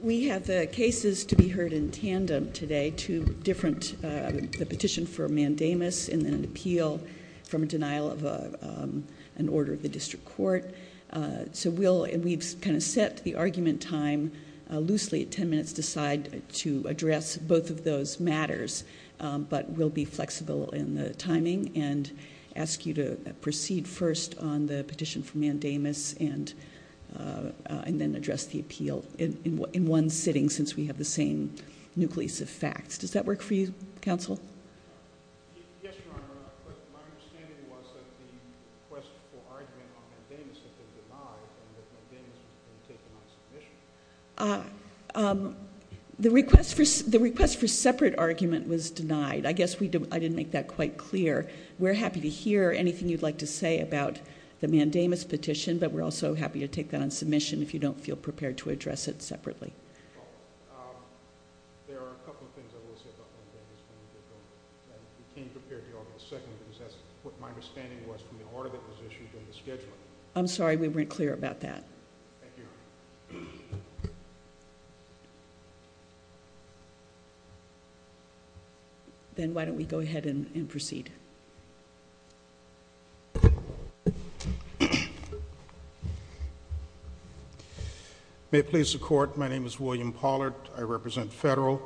We have the cases to be heard in tandem today, two different, the petition for mandamus and an appeal from a denial of an order of the district court. So we'll, we've kind of set the argument time loosely, 10 minutes decide to address both of those matters, but we'll be flexible in the timing and ask you to proceed first on the petition for mandamus and then address the appeal in one sitting since we have the same nucleus of facts. Does that work for you, counsel? Yes, Your Honor. My understanding was that the request for separate argument was denied. I guess I didn't make that quite clear. We're happy to hear anything you'd like to say about the mandamus petition, but we're also happy to take that on submission if you don't feel prepared to address it separately. I'm sorry, we weren't clear about that. Then why don't we go ahead and proceed. May it please the Court, my name is William Pollard. I represent Federal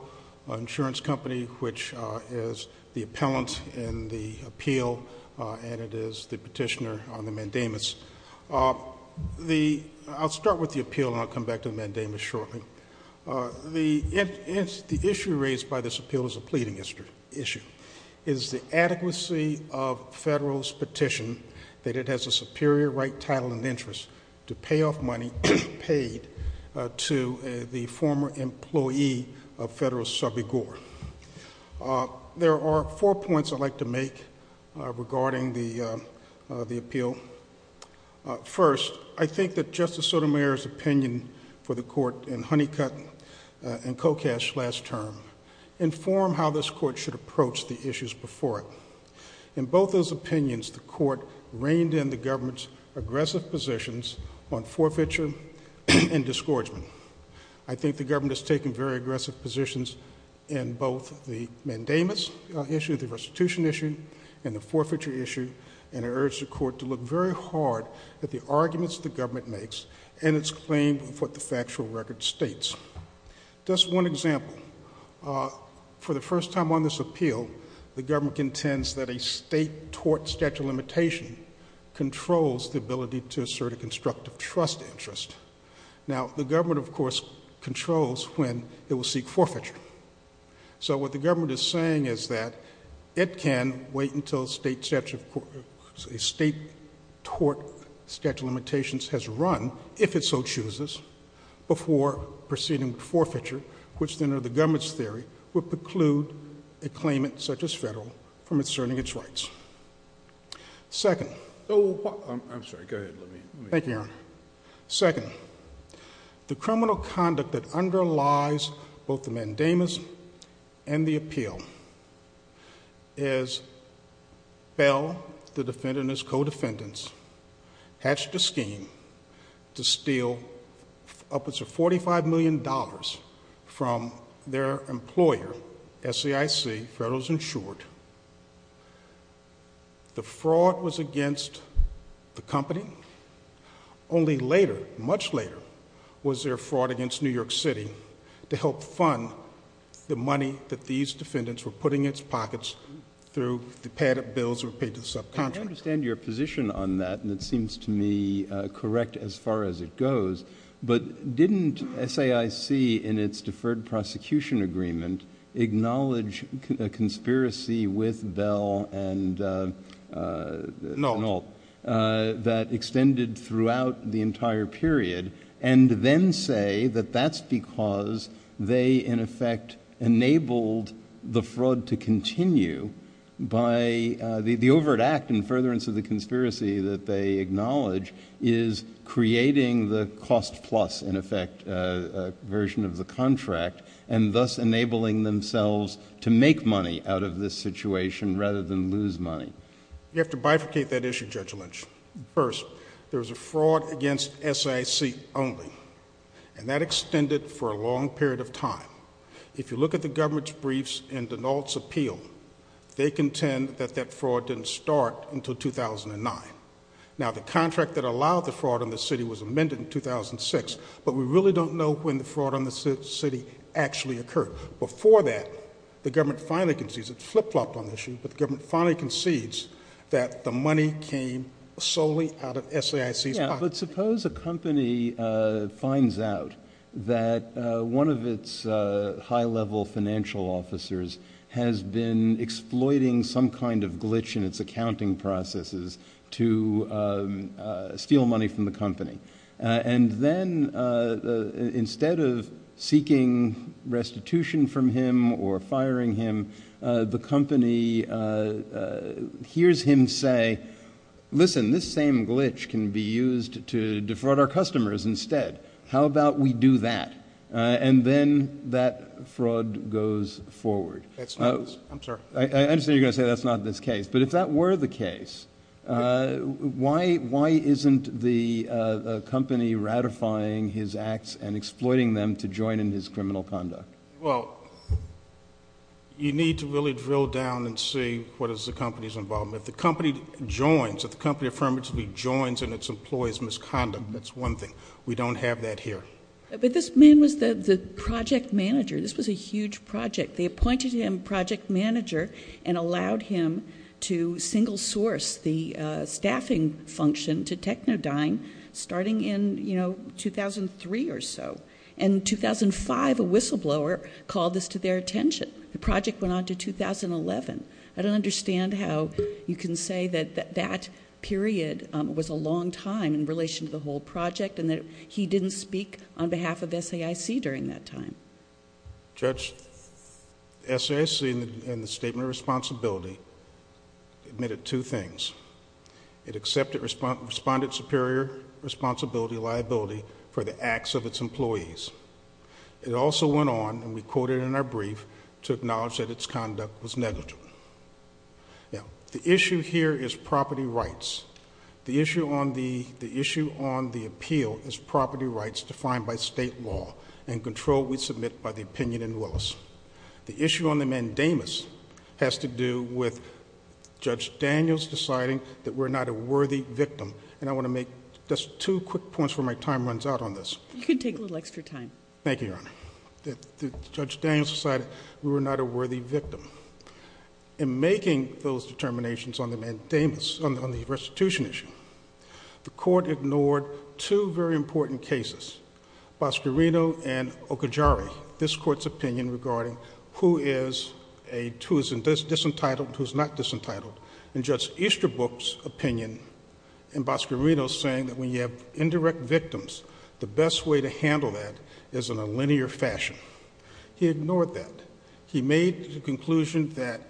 Insurance Company, which is the appellant in the appeal and it is the I'll start with the appeal and I'll come back to mandamus shortly. The issue raised by this appeal is a pleading issue. It is the adequacy of Federal's petition that it has a superior right, title and interest to pay off money paid to the former employee of Federal Subreport. There are four points I'd like to make regarding the appeal. First, I think that Justice Sotomayor's opinion for the Court in Honeycutt and Kokash last term informed how this Court should approach the issues before it. In both those opinions, the Court reined in the government's aggressive positions on forfeiture and disgorgement. I think the government is taking very aggressive positions in both the mandamus issue, the restitution issue and the forfeiture issue and I urge the Court to look very hard at the arguments the government makes and its claim of what the factual record states. Just one example. For the first time on this appeal, the government contends that a state tort statute of limitation controls the ability to assert a constructive trust interest. Now, the government, of course, controls when it will seek forfeiture. So what the government is saying is that it can wait until a state tort statute of limitations has run, if it so chooses, before proceeding with forfeiture, which then, under the government's theory, would preclude a claimant, such as Federal, from asserting its rights. Second, the criminal conduct that underlies both the mandamus and the appeal is that the defendant and his co-defendants hatched a scheme to steal upwards of $45 million from their employer, SEIC, Federal Insurance. The fraud was against the company, only later, was there fraud against New York City, to help fund the money that these defendants were putting into pockets through the padded bills of a patent subcontractor. I understand your position on that, and it seems to me correct as far as it goes, but didn't SEIC, in its deferred prosecution agreement, acknowledge a conspiracy with Bell and Moult that extended throughout the entire period, and then say that that's because they, in effect, enabled the fraud to continue by the overt act and furtherance of the conspiracy that they acknowledge is creating the cost plus, in effect, version of the contract, and thus enabling themselves to make money out of this situation rather than lose money? You have to bifurcate that issue, Judge Lynch. First, there's a fraud against SEIC only, and that extended for a long period of time. If you look at the government's briefs and Denault's appeal, they contend that that fraud didn't start until 2009. Now, the contract that allowed the fraud on the city was amended in 2006, but we really don't know when the fraud on the city actually occurred. Before that, the government finally concedes, it flip-flopped on this issue, but the government finally concedes that the money came solely out of SEIC's pocket. Yeah, but suppose a company finds out that one of its high-level financial officers has been exploiting some kind of glitch in its accounting processes to steal money from the company, hears him say, listen, this same glitch can be used to defraud our customers instead. How about we do that? And then that fraud goes forward. I understand you're going to say that's not the case, but if that were the case, why isn't the company ratifying his acts and exploiting them to join in his criminal conduct? Well, you need to really drill down and see what is the company's involvement. If the company joins, if the company affirmatively joins in its employee's misconduct, that's one thing. We don't have that here. But this man was the project manager. This was a huge project. They appointed him project manager and allowed him to single-source the project. In 2005, a whistleblower called this to their attention. The project went on to 2011. I don't understand how you can say that that period was a long time in relation to the whole project and that he didn't speak on behalf of SEIC during that time. Judge, SEIC in the statement of responsibility admitted two things. It accepted respondent superior responsibility liability for the acts of its employees. It also went on, and we quoted in our brief, to acknowledge that its conduct was negative. Now, the issue here is property rights. The issue on the appeal is property rights defined by state law and control we submit by the opinion in Willis. The issue on the mandamus has to do with Judge Daniels deciding that we're not a worthy victim. And I want to make just two quick points before my time runs out on this. You can take a little extra time. Thank you, Your Honor. Judge Daniels decided we were not a worthy victim. In making those determinations on the mandamus, on the restitution issue, the Court ignored two very important cases, Bascarino and Okajara, this Court's opinion regarding who is a disentitled, who's not victims. The best way to handle that is in a linear fashion. He ignored that. He made the conclusion that,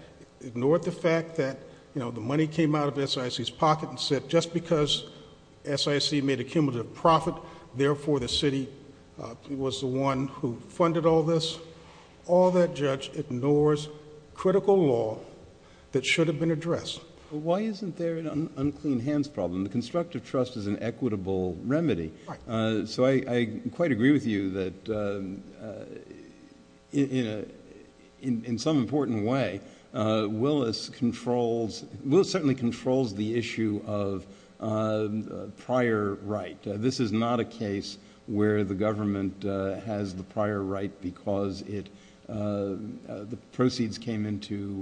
ignored the fact that, you know, the money came out of SEIC's pocket and said just because SEIC made a cumulative profit, therefore the city was the one who funded all this. All that, Judge, ignores critical law that should have been addressed. Why isn't there an unclean problem? The constructive trust is an equitable remedy. So I quite agree with you that in some important way, Willis certainly controls the issue of prior right. This is not a case where the government has the prior right because the proceeds came into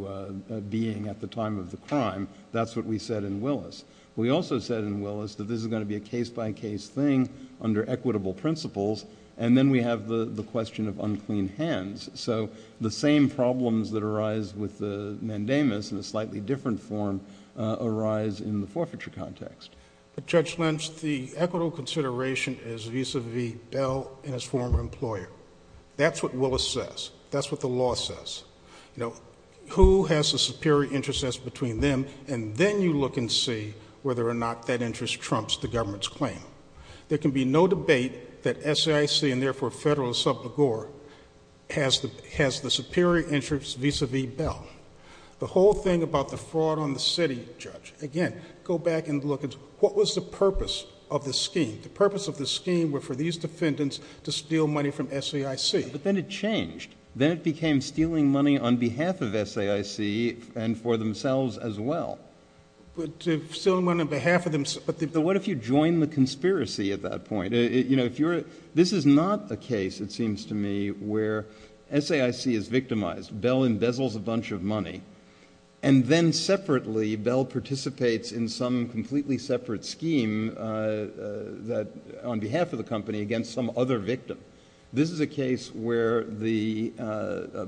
being at the time of the mandamus. We also said in Willis that this is going to be a case-by-case thing under equitable principles, and then we have the question of unclean hands. So the same problems that arise with the mandamus in a slightly different form arise in the forfeiture context. Judge Lynch, the equitable consideration is vis-à-vis Dell and his former employer. That's what Willis says. That's what the law says. Now, who has a superior interest and then you look and see whether or not that interest trumps the government's claim. There can be no debate that SEIC and therefore federal subsidiary has the superior interest vis-à-vis Dell. The whole thing about the fraud on the city, Judge, again, go back and look at what was the purpose of the scheme. The purpose of the scheme was for these defendants to steal money from SEIC. But then it changed. Then it became stealing money on behalf of SEIC and for themselves as well. What if you join the conspiracy at that point? This is not the case, it seems to me, where SEIC is victimized. Dell embezzles a bunch of money, and then separately Dell participates in some completely separate scheme on behalf of the company against some other victim. This is a case where the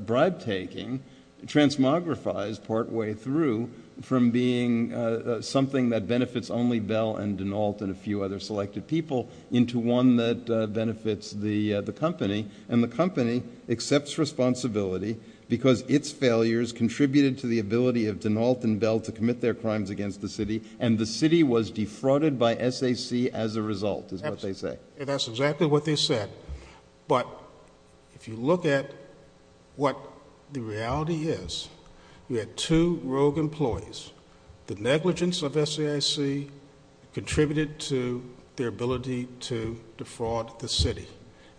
bribe-taking transmogrifies partway through from being something that benefits only Dell and Denault and a few other selected people into one that benefits the company. The company accepts responsibility because its failures contributed to the ability of Denault and Dell to commit their crimes against the city, and the city was defrauded by SEIC as a result, is what they say. That's exactly what they said. But if you look at what the reality is, we had two rogue employees. The negligence of SEIC contributed to their ability to defraud the city.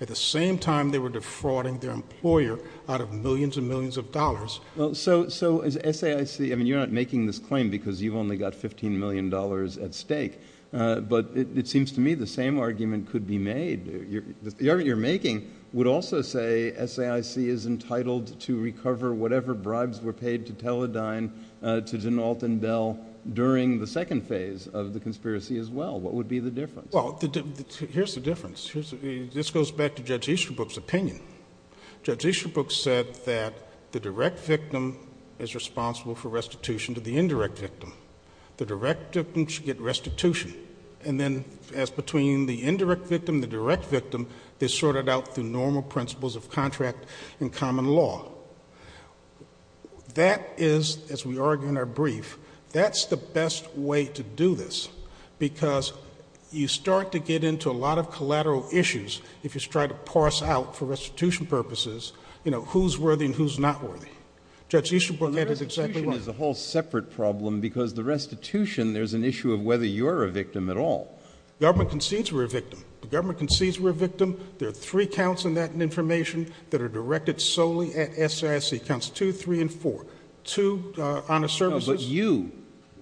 At the same time, they were defrauding their employer out of millions and millions of dollars at stake. But it seems to me the same argument could be made. The argument you're making would also say SEIC is entitled to recover whatever bribes were paid to Teledyne, to Denault and Dell during the second phase of the conspiracy as well. What would be the difference? Well, here's the difference. This goes back to Judge Easterbrook's opinion. Judge Easterbrook said that the direct victim is responsible for restitution to the indirect victim. The direct victim should get restitution. And then as between the indirect victim and the direct victim, they sort it out through normal principles of contract and common law. That is, as we argue in our brief, that's the best way to do this, because you start to get into a lot of collateral issues if you try to parse out for restitution purposes, you know, who's worthy and who's not worthy. Judge Easterbrook had an exceptional— There's an issue of whether you're a victim at all. The government concedes we're a victim. The government concedes we're a victim. There are three counts in that information that are directed solely at SEIC. Counts two, three, and four. Two honest services— No, but you,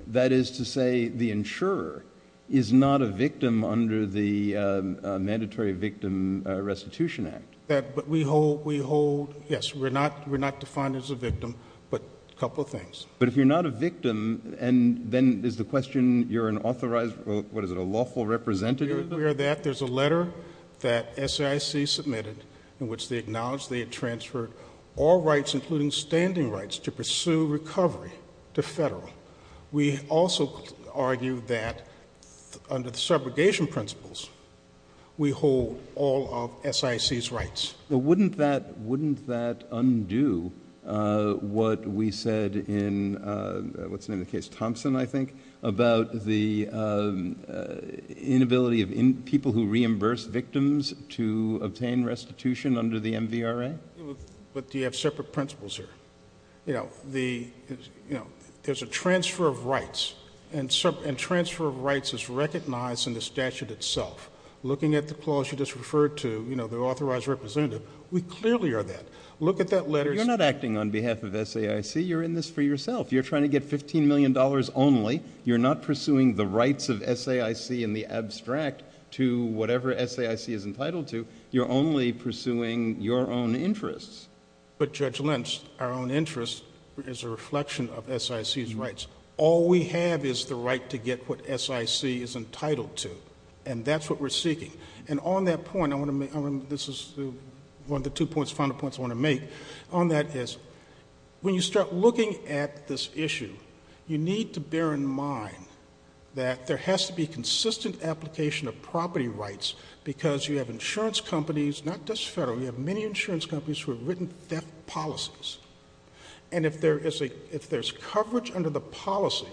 that is to say the insurer, is not a victim under the Mandatory Victim Restitution Act. But we hold—yes, we're not defined as a victim, but a couple of things. But if you're not a victim, and then is the question you're an authorized, what is it, a lawful representative? We're aware of that. There's a letter that SEIC submitted in which they acknowledged they had transferred all rights, including standing rights, to pursue recovery to federal. We also argue that under the segregation principles, we hold all of SEIC's rights. But wouldn't that undo what we said in, what's the name of the case, Thompson, I think, about the inability of people who reimburse victims to obtain restitution under the MVRA? But you have separate principles here. There's a transfer of rights, and transfer of rights is recognized in the statute itself. Looking at the clause you just referred to, you know, we clearly are that. Look at that letter— You're not acting on behalf of SEIC. You're in this for yourself. You're trying to get $15 million only. You're not pursuing the rights of SEIC in the abstract to whatever SEIC is entitled to. You're only pursuing your own interests. But Judge Lynch, our own interests is a reflection of SEIC's rights. All we have is the right to get what SEIC is entitled to, and that's what we're seeking. And on that point, this is one of the two final points I want to make on that is, when you start looking at this issue, you need to bear in mind that there has to be consistent application of property rights because you have insurance companies, not just federal, you have many insurance companies who have written death policies. And if there's coverage under the policy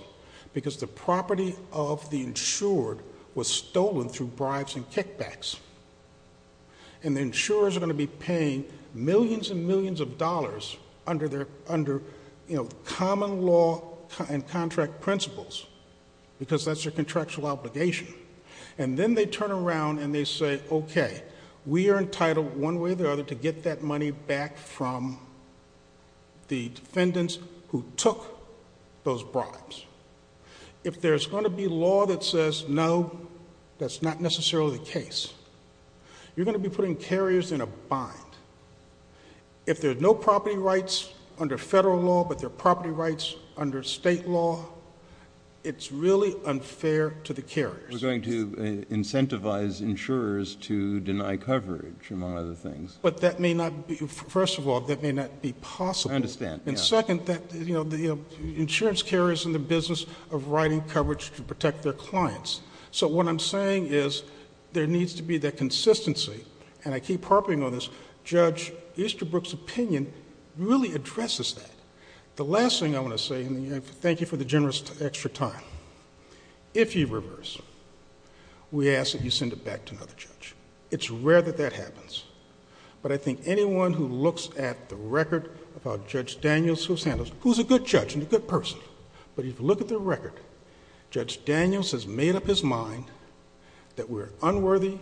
because the property of the insured was stolen through kickbacks, and the insurers are going to be paying millions and millions of dollars under common law and contract principles because that's their contractual obligation, and then they turn around and they say, okay, we are entitled one way or the other to get that money back from the defendants who took those bribes. If there's going to be law that says, no, that's not necessarily the case. You're going to be putting carriers in a bind. If there's no property rights under federal law, but there are property rights under state law, it's really unfair to the carriers. We're going to incentivize insurers to deny coverage, among other things. But that may not be, first of all, that may not be possible. I understand. And second, that, you know, the insurance carriers in the business of writing coverage can protect their clients. So what I'm saying is there needs to be that consistency. And I keep harping on this. Judge Easterbrook's opinion really addresses that. The last thing I want to say, and thank you for the generous extra time. If you reverse, we ask that you send it back to another judge. It's rare that that happens. But I think anyone who looks at the record of Judge Daniels, who's a good judge and a good person, but if you look at the record, Judge Daniels has made up his mind that we're unworthy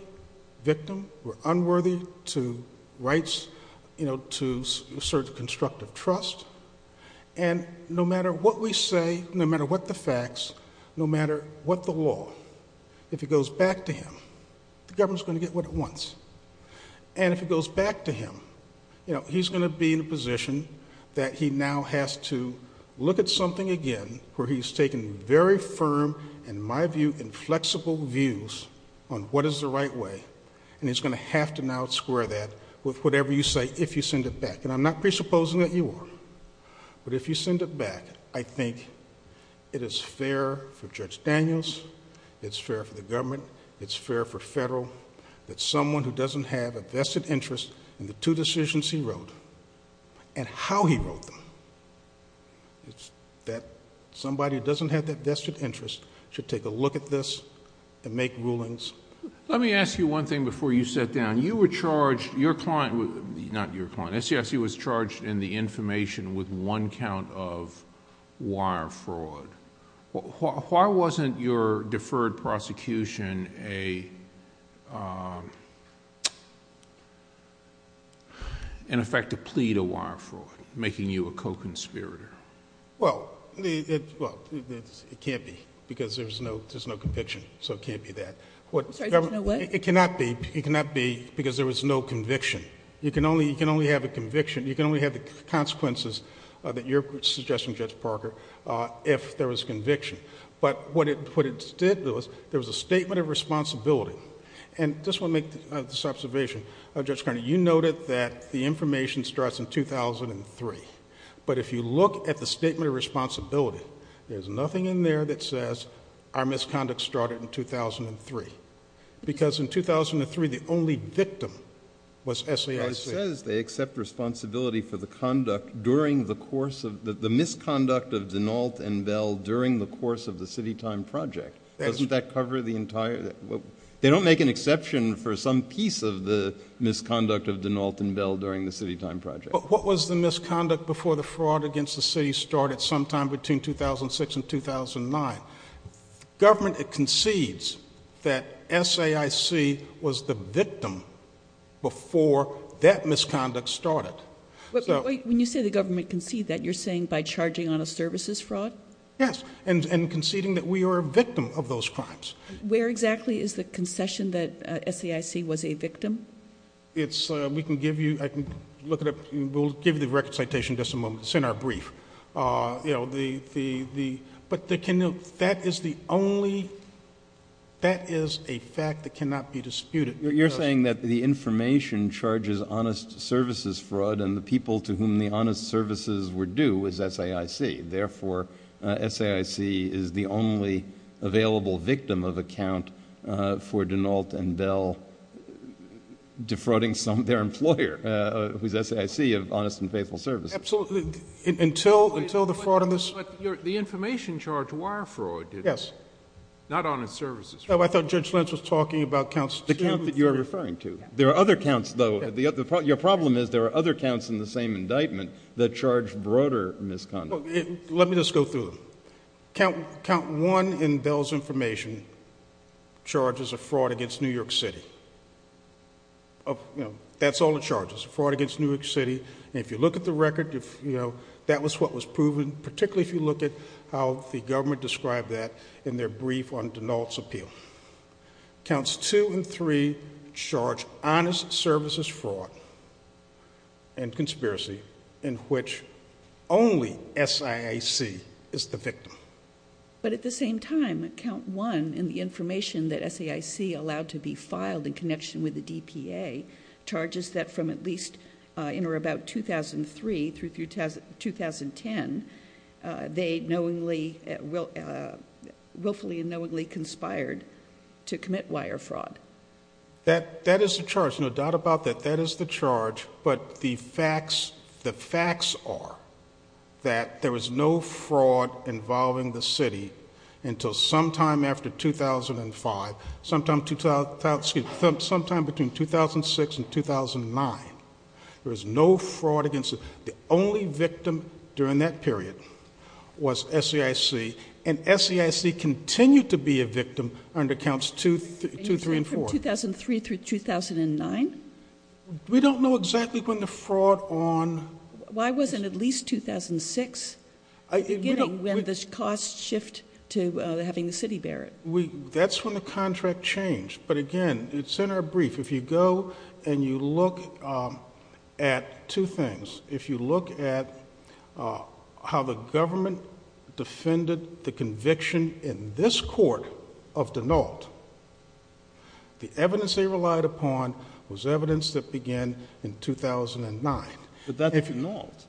victims, we're unworthy to rights, you know, to assert constructive trust. And no matter what we say, no matter what the facts, no matter what the law, if it goes back to him, the government's going to get what it wants. And if it goes back to him, you know, he's going to be in a position that he now has to look at something again where he's taking very firm, in my view, inflexible views on what is the right way. And he's going to have to now square that with whatever you say if you send it back. And I'm not presupposing that you are. But if you send it back, I think it is fair for Judge Daniels. It's fair for the government. It's fair for federal. It's someone who doesn't have a vested interest in the two decisions he wrote. And how he wrote them. That somebody who doesn't have that vested interest should take a look at this and make rulings. Let me ask you one thing before you sit down. You were charged, your client, not your client, SCFC was charged in the information with one count of wire fraud. Why wasn't your deferred prosecution an effective plea to wire fraud, making you a co-conspirator? Well, it can't be. Because there's no conviction. So it can't be that. It cannot be. It cannot be because there was no conviction. You can only have a conviction. You can only have the consequences that you're suggesting, Judge Parker, if there was conviction. But what it did was there was a statement of responsibility. And this will make this observation. Judge Carney, you noted that the information starts in 2003. But if you look at the statement of responsibility, there's nothing in there that says our misconduct started in 2003. Because in 2003, the only victim was SCFC. They accept responsibility for the conduct during the course of the misconduct of Denault and Dell during the course of the city time project. Doesn't that cover the entire? They don't make an exception for some piece of the misconduct of Denault and Dell during the city time project. What was the misconduct before the fraud against the city started sometime between 2006 and 2009? Government concedes that SAIC was the victim before that misconduct started. When you say the government concedes that, you're saying by charging on a services fraud? Yes. And conceding that we were a victim of those crimes. Where exactly is the concession that SAIC was a victim? It's, we can give you, I can look at it. We'll give you the record citation in just a moment. It's in our brief. You know, the, the, the, but they can, that is the only, that is a fact that cannot be disputed. You're saying that the information charges honest services fraud and the people to whom the honest services were due was SAIC. Therefore, SAIC is the only available victim of account for Denault and Dell defrauding some of their employer with SAIC of honest and faithful service. Absolutely. Until, until the fraud. The information charged wire fraud. Yes. Not honest services. I thought Judge Lentz was talking about counts. The counts that you are referring to. There are other counts though. The other part of your problem is there are other counts in the same indictment that charge broader misconduct. Let me just go through it. Count, count one in Bell's information, charges of fraud against New York City. That's all the charges, fraud against New York City. And if you look at the record, you know, that was what was proven, particularly if you look at how the government described that in their brief on Denault's appeal. Counts two and three charge honest services fraud and conspiracy in which only SAIC is the victim. But at the same time, count one in the information that SAIC allowed to be filed in connection with the DPA charges that from at least in or about 2003 through 2010, they knowingly, willfully and knowingly conspired to commit wire fraud. That is the charge. No doubt about that. That is the charge. But the facts, the facts are that there was no fraud involving the city until sometime after 2005, sometime between 2006 and 2009. There was no fraud against it. The only victim during that period was SAIC. And SAIC continued to be a victim under counts two, two, three, and four. 2003 through 2009? We don't know exactly when the fraud on. Why wasn't it at least 2006 when the costs shift to having the city bear it? That's when the contract changed. But again, it's in our brief. If you go and you look at two things. If you look at how the government defended the conviction in this court of Denault, the evidence they relied upon was evidence that began in 2009. But that's Denault.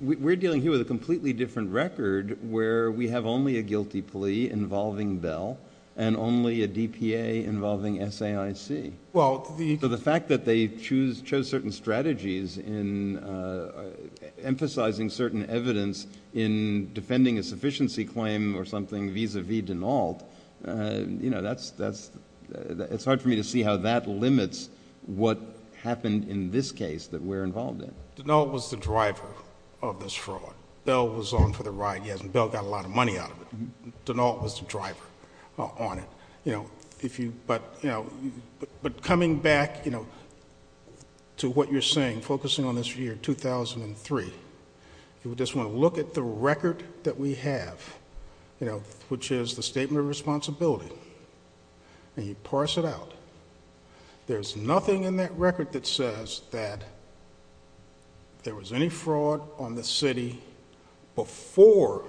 We're dealing here with a completely different record where we have only a guilty plea involving Bell and only a DPA involving SAIC. Well, the fact that they chose certain strategies in emphasizing certain evidence in defending a sufficiency claim or something vis-a-vis Denault, you know, it's hard for me to see how that limits what happened in this case that we're involved in. Denault was the driver of this fraud. Bell was on for the ride. Yes, and Bell got a lot of money out of it. Denault was the driver on it. But coming back to what you're saying, focusing on this year, 2003, you just want to look at the record that we have, you know, which is the Statement of Responsibility. And you parse it out. There's nothing in that record that says that there was any fraud on the city before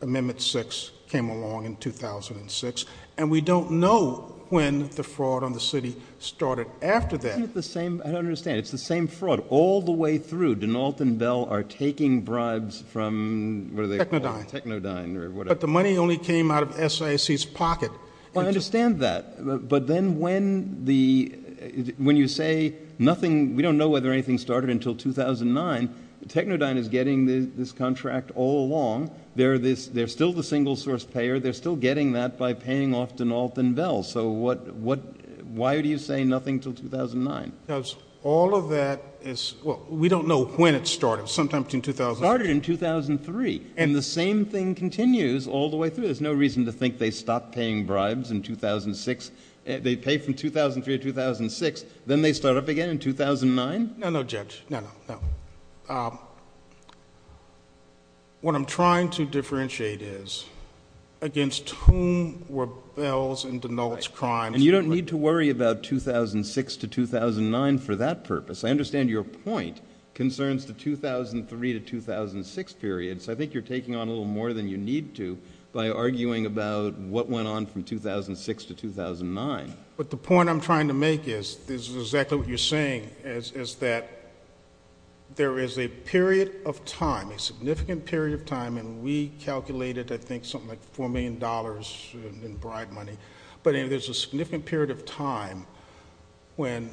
Amendment 6 came along in 2006. And we don't know when the fraud on the city started after that. It's the same. I understand. It's the same fraud all the way through. Denault and Bell are taking bribes from Technodyne or whatever. But the money only came out of SIC's pocket. I understand that. But then when you say nothing, we don't know whether anything started until 2009. Technodyne is getting this contract all along. They're still the single source payer. They're still getting that by paying off Denault and Bell. So why do you say nothing until 2009? Because all of that is, well, we don't know when it started. Sometime in 2008. Started in 2003. And the same thing continues all the way through. There's no reason to think they stopped paying bribes in 2006. They pay from 2003 to 2006. Then they start up again in 2009. No, no, Judge. No, no, no. What I'm trying to differentiate is against whom were Bells and Denault's crimes. You don't need to worry about 2006 to 2009 for that purpose. I understand your point concerns the 2003 to 2006 period. So I think you're taking on a little more than you need to by arguing about what went on from 2006 to 2009. But the point I'm trying to make is exactly what you're saying, is that there is a period of time, a significant period of time. And we calculated, I think, something like $4 million in bribe money. But it is a significant period of time when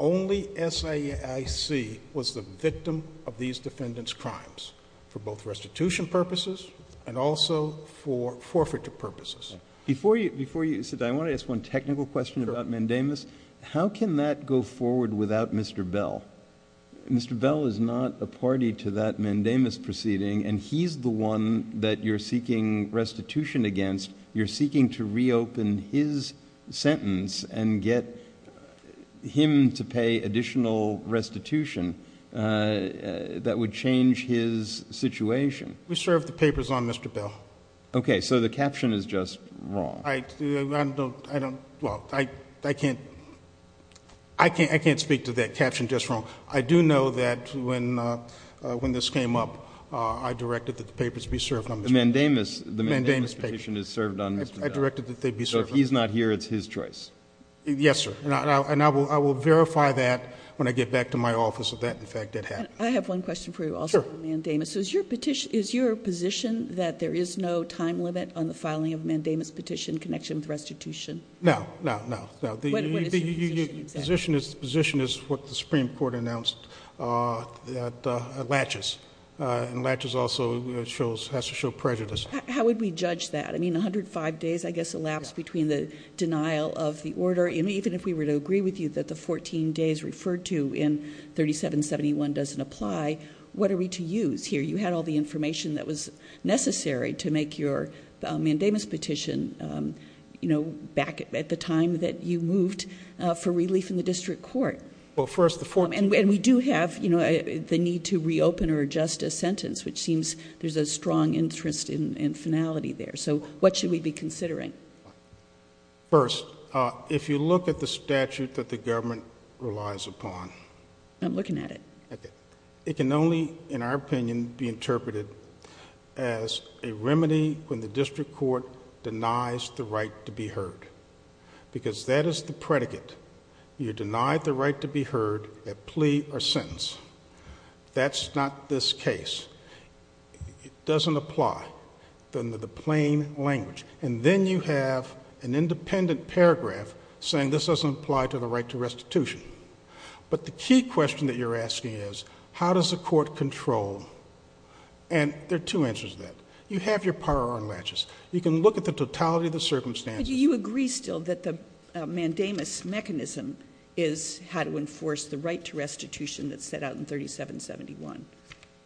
only SAIC was the victim of these defendants' crimes, for both restitution purposes and also for forfeiture purposes. Before you sit down, I want to ask one technical question about mandamus. How can that go forward without Mr. Bell? Mr. Bell is not a party to that mandamus proceeding. And he's the one that you're seeking restitution against. You're seeking to reopen his sentence and get him to pay additional restitution that would change his situation. We served the papers on Mr. Bell. Okay, so the caption is just wrong. I don't, I don't, well, I can't, I can't speak to that caption just wrong. I do know that when this came up, I directed that the papers be served on Mr. Bell. The mandamus petition is served on Mr. Bell. I directed that they be served on Mr. Bell. So if he's not here, it's his choice. Yes, sir. And I will verify that when I get back to my office, if that in fact did happen. I have one question for you also on mandamus. Is your petition, is your position that there is no time limit on the filing of mandamus petition in connection with restitution? No, no, no. Position is what the Supreme Court announced, that latches, and latches also shows, has to show prejudice. How would we judge that? I mean, 105 days, I guess, elapsed between the denial of the order. And even if we were to agree with you that the 14 days referred to in 3771 doesn't apply, what are we to use here? You had all the information that was necessary to make your mandamus petition, you know, back at the time that you moved for relief in the district court. Well, first the form, and we do have, you know, the need to reopen or adjust a sentence, which seems there's a strong interest in finality there. So what should we be considering? First, if you look at the statute that the government relies upon. I'm looking at it. It can only, in our opinion, be interpreted as a remedy when the district court Because that is the predicate. You denied the right to be heard at plea or sentence. That's not this case. It doesn't apply under the plain language. And then you have an independent paragraph saying this doesn't apply to the right to restitution. But the key question that you're asking is, how does the court control? And there are two answers to that. You have your power on latches. You can look at the totality of the circumstances. You agree still that the mandamus mechanism is how to enforce the right to restitution that's set out in 3771.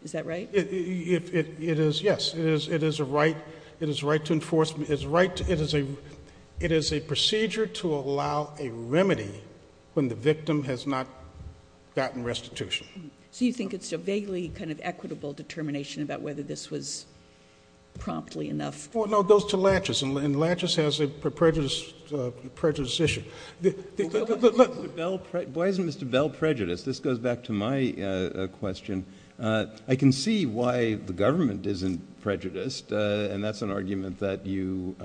Is that right? It is. Yes, it is. It is a right. It is right to enforce. It's right. It is a procedure to allow a remedy when the victim has not gotten restitution. So you think it's a vaguely kind of equitable determination about whether this was promptly enough? No, those two latches. And latches has a prejudice issue. Why is it Mr. Bell prejudiced? This goes back to my question. I can see why the government isn't prejudiced. And that's an argument that you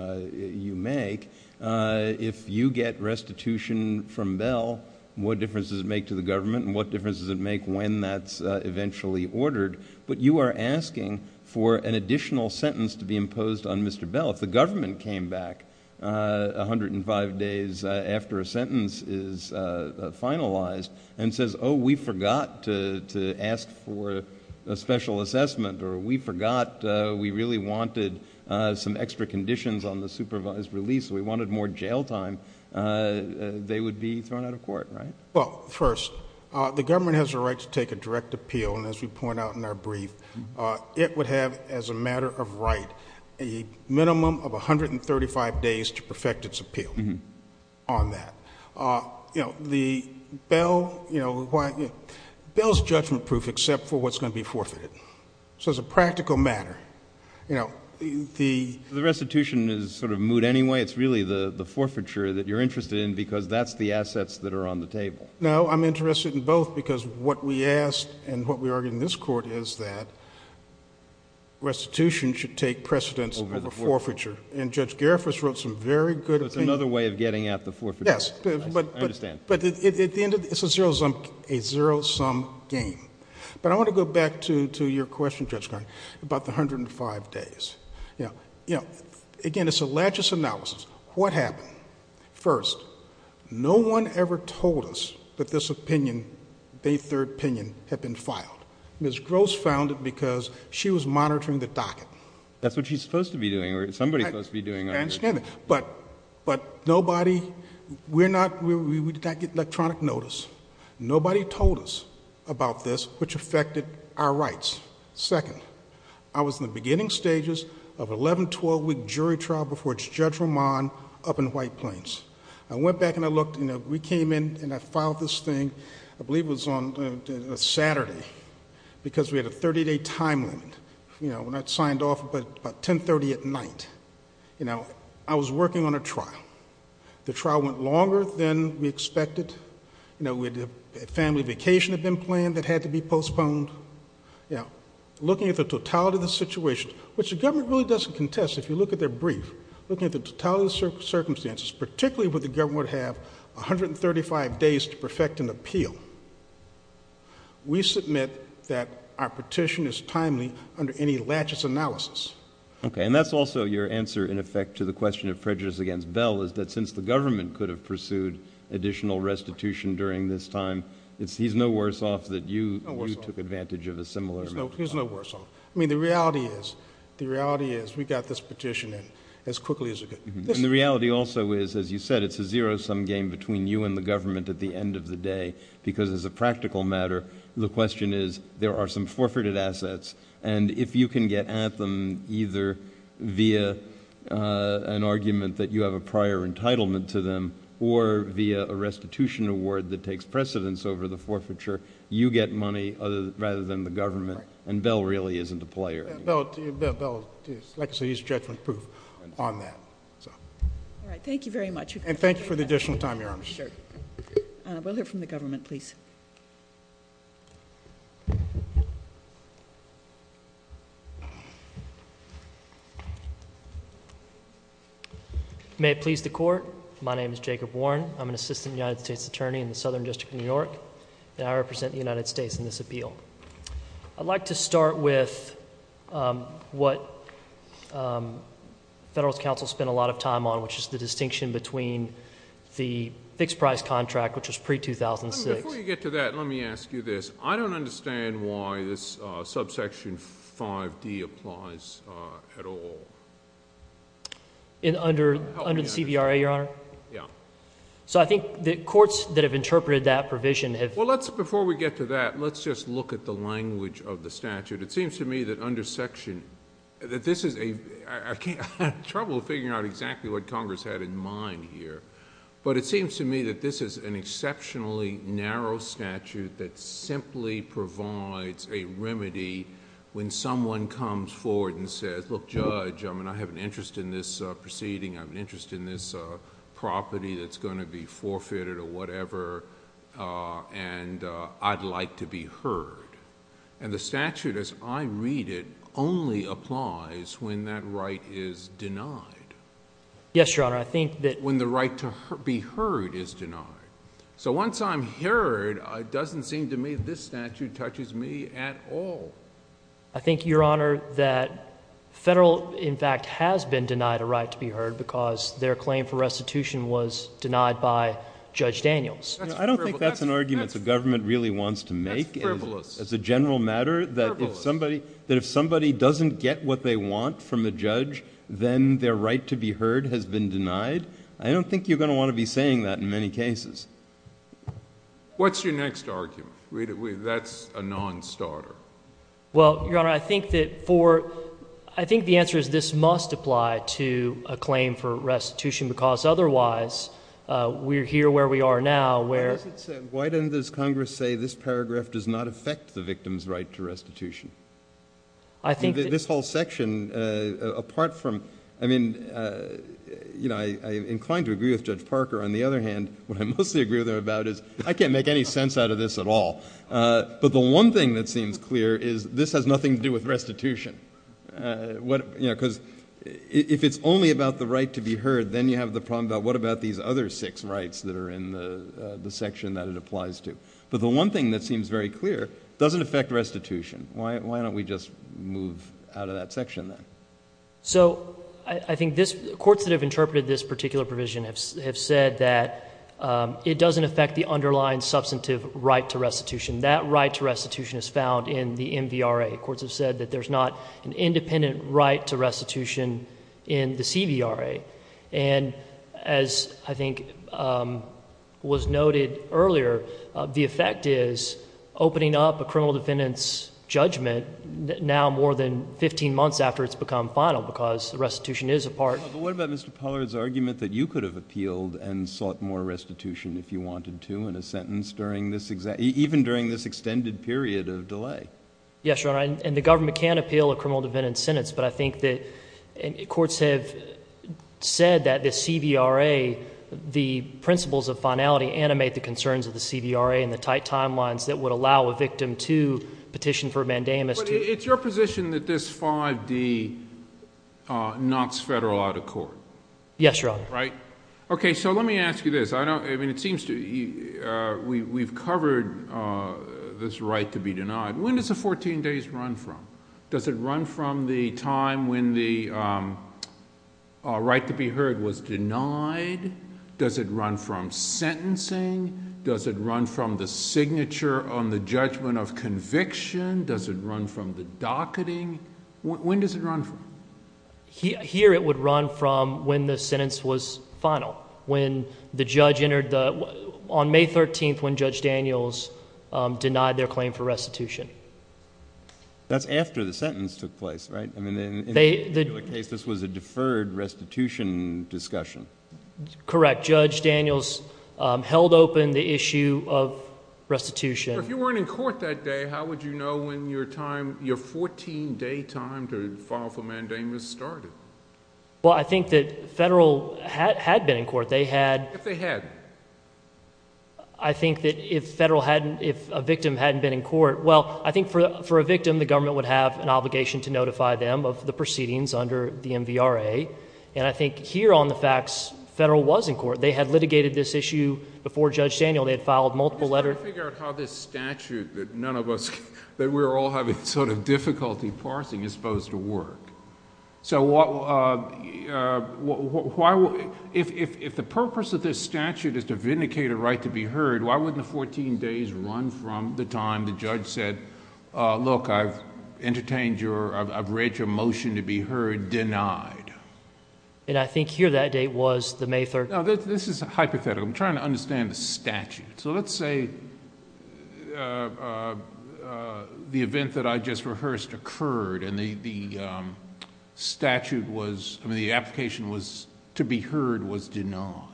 make. If you get restitution from Bell, what difference does it make to the government? And what difference does it make when that's eventually ordered? But you are asking for an additional sentence to be imposed on Mr. Bell. If the government came back 105 days after a sentence is finalized and says, oh, we forgot to ask for a special assessment, or we forgot, we really wanted some extra conditions on the supervised release. We wanted more jail time. They would be thrown out of court, right? Well, first, the government has a right to take a direct appeal. And as we point out in our brief, it would have, as a matter of right, a minimum of 135 days to perfect its appeal on that. Bell's judgment proof except for what's going to be forfeited. So it's a practical matter. The restitution is sort of moot anyway. It's really the forfeiture that you're interested in because that's the assets that are on the table. No, I'm interested in both because what we asked and what we argued in this court is that restitution should take precedence over forfeiture. And Judge Garifuss wrote some very good opinions. That's another way of getting at the forfeiture. Yes, but at the end of the day, it's a zero-sum game. But I want to go back to your question, Judge Garifuss, about the 105 days. Again, it's a latches analysis. What happened? First, no one ever told us that this opinion, a third opinion, had been filed. Ms. Gross filed it because she was monitoring the docket. That's what she's supposed to be doing or somebody's supposed to be doing it. I understand that. But nobody, we're not, we can't get electronic notice. Nobody told us about this, which affected our rights. Second, I was in the beginning stages of 11, 12-week jury trial before Judge Roman up in White Plains. I went back and I looked and we came in and I filed this thing, I believe it was on Saturday, because we had a 30-day time limit. You know, we're not signed off, but 1030 at night. You know, I was working on a trial. The trial went longer than we expected. You know, we did a family vacation event plan that had to be postponed. You know, looking at the totality of the situation, which the government really doesn't contest, if you look at their brief, looking at the totality of the circumstances, particularly if the government would have 135 days to perfect an appeal, we submit that our petition is timely under any laches analysis. Okay. And that's also your answer, in effect, to the question of prejudice against Bell is that since the government could have pursued additional restitution during this time, he's no worse off that you took advantage of a similar amendment. He's no worse off. I mean, the reality is, the reality is we got this petition in as quickly as it did. And the reality also is, as you said, it's a zero-sum game between you and the government at the end of the day, because as a practical matter, the question is, there are some forfeited assets. And if you can get at them either via an argument that you have a prior entitlement to them or via a restitution award that takes precedence over the forfeiture, you get money rather than the government. And Bell really isn't the player. And Bell, like I said, he's directly proof on that. All right. Thank you very much. And thank you for the additional time you're on this. Sure. And we'll hear from the government, please. May it please the Court. My name is Jacob Warren. I'm an Assistant United States Attorney in the Southern District of New York. And I represent the United States in this appeal. I'd like to start with what the Federalist Council spent a lot of time on, which is the distinction between the fixed-price contract, which was pre-2006. Before you get to that, let me ask you this. I don't understand why this subsection 5D applies at all. In under the CVRA, Your Honor? Yeah. So I think the courts that have interpreted that provision have— Before we get to that, let's just look at the language of the statute. It seems to me that under section—I have trouble figuring out exactly what Congress had in mind here—but it seems to me that this is an exceptionally narrow statute that simply provides a remedy when someone comes forward and says, look, Judge, I have an interest in this proceeding. I have an interest in this property that's going to be forfeited or whatever. And I'd like to be heard. And the statute, as I read it, only applies when that right is denied. Yes, Your Honor. I think that— When the right to be heard is denied. So once I'm heard, it doesn't seem to me this statute touches me at all. I think, Your Honor, that Federal, in fact, has been denied a right to be heard because their claim for restitution was denied by Judge Daniels. I don't think that's an argument the government really wants to make as a general matter, that if somebody doesn't get what they want from a judge, then their right to be heard has been denied. I don't think you're going to want to be saying that in many cases. What's your next argument? That's a non-starter. Well, Your Honor, I think that for—I think the answer is this must apply to a claim for now where— Why doesn't this Congress say this paragraph does not affect the victim's right to restitution? I mean, this whole section, apart from—I mean, you know, I'm inclined to agree with Judge Parker. On the other hand, what I mostly agree with him about is I can't make any sense out of this at all. But the one thing that seems clear is this has nothing to do with restitution. You know, because if it's only about the right to be heard, then you have the problem about what about these other six rights that are in the section that it applies to? But the one thing that seems very clear doesn't affect restitution. Why don't we just move out of that section then? So I think this—courts that have interpreted this particular provision have said that it doesn't affect the underlying substantive right to restitution. That right to restitution is found in the MVRA. Courts have said that there's not an independent right to restitution in the CVRA. And as I think was noted earlier, the effect is opening up a criminal defendant's judgment now more than 15 months after it's become final because the restitution is a part— But what about Mr. Pollard's argument that you could have appealed and sought more restitution if you wanted to in a sentence during this—even during this extended period of delay? Yes, Your Honor. And the government can appeal a criminal defendant's sentence. But I think that courts have said that the CVRA, the principles of finality, animate the concerns of the CVRA and the tight timelines that would allow a victim to petition for a mandamus to— It's your position that this 5D knocks federal out of court? Yes, Your Honor. Right? So let me ask you this. I don't—I mean, it seems to—we've covered this right to be denied. When does the 14 days run from? Does it run from the time when the right to be heard was denied? Does it run from sentencing? Does it run from the signature on the judgment of conviction? Does it run from the docketing? When does it run from? Here it would run from when the sentence was final, when the judge entered the—on May 13th when Judge Daniels denied their claim for restitution. That's after the sentence took place, right? I mean, in the case, this was a deferred restitution discussion. Correct. Judge Daniels held open the issue of restitution. So if you weren't in court that day, how would you know when your time—your 14-day time to file for mandamus started? Well, I think that federal had been in court. They had— If they had? I think that if federal hadn't—if a victim hadn't been in court—well, I think for a victim, the government would have an obligation to notify them of the proceedings under the MVRA. And I think here on the facts, federal was in court. They had litigated this issue before Judge Daniels. They had filed multiple letters— Can you figure out how this statute that none of us—that we're all having sort of difficulty parsing is supposed to work? So what—if the purpose of this statute is to vindicate a right to be heard, why wouldn't the 14 days run from the time the judge said, look, I've entertained your—I've read your motion to be heard, denied? And I think here that date was the May 3rd. Now, this is a hypothetical. I'm trying to understand the statute. So let's say the event that I just rehearsed occurred and the statute was—I mean, the application was—to be heard was denied.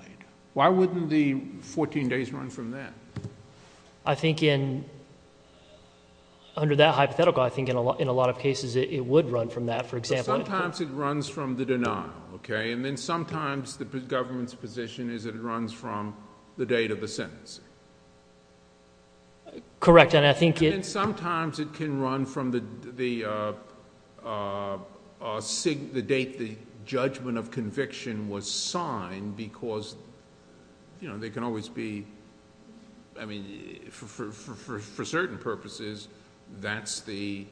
Why wouldn't the 14 days run from that? I think in—under that hypothetical, I think in a lot of cases, it would run from that. For example— Sometimes it runs from the denial, okay? And then sometimes the government's position is it runs from the date of the sentencing. Correct. And I think it— You know, they can always be—I mean, for certain purposes, that's the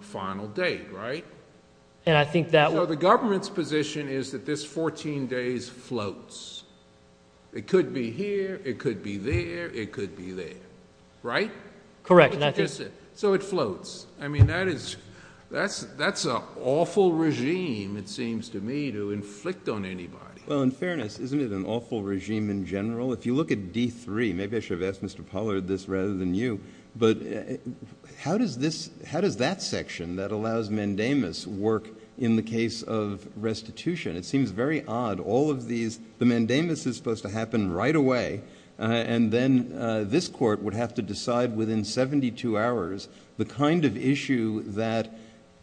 final date, right? And I think that— Well, the government's position is that this 14 days floats. It could be here. It could be there. It could be there, right? Correct. So it floats. I mean, that is—that's an awful regime, it seems to me, to inflict on anybody. Well, in fairness, isn't it an awful regime in general? If you look at D3, maybe I should have asked Mr. Pollard this rather than you, but how does this—how does that section that allows mandamus work in the case of restitution? It seems very odd. All of these—the mandamus is supposed to happen right away, and then this court would have to decide within 72 hours the kind of issue that,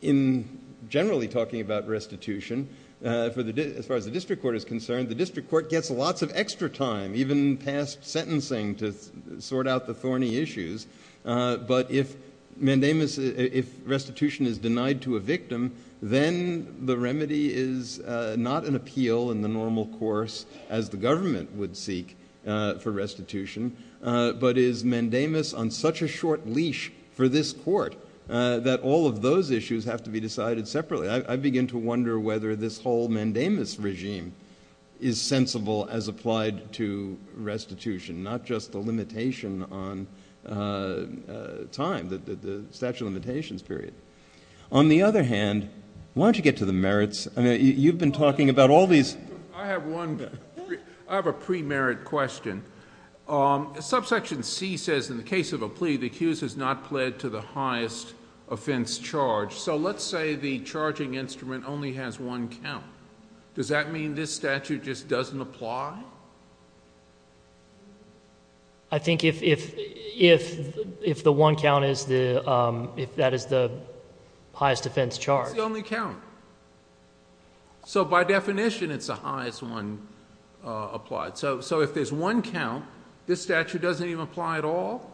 in generally talking about restitution, for the—as far as the district court is concerned, the district court gets lots of extra time, even past sentencing, to sort out the thorny issues. But if mandamus—if restitution is denied to a victim, then the remedy is not an appeal in the normal course as the government would seek for restitution, but is mandamus on such a short leash for this court that all of those issues have to be decided separately. I begin to wonder whether this whole mandamus regime is sensible as applied to restitution, not just the limitation on time, the statute of limitations period. On the other hand, why don't you get to the merits? I mean, you've been talking about all these— I have one—I have a pre-merit question. Subsection C says, in the case of a plea, the accused has not pled to the highest offense charge. So let's say the charging instrument only has one count. Does that mean this statute just doesn't apply? I think if the one count is the—if that is the highest offense charge— It's the only count. So by definition, it's the highest one applied. So if there's one count, this statute doesn't even apply at all?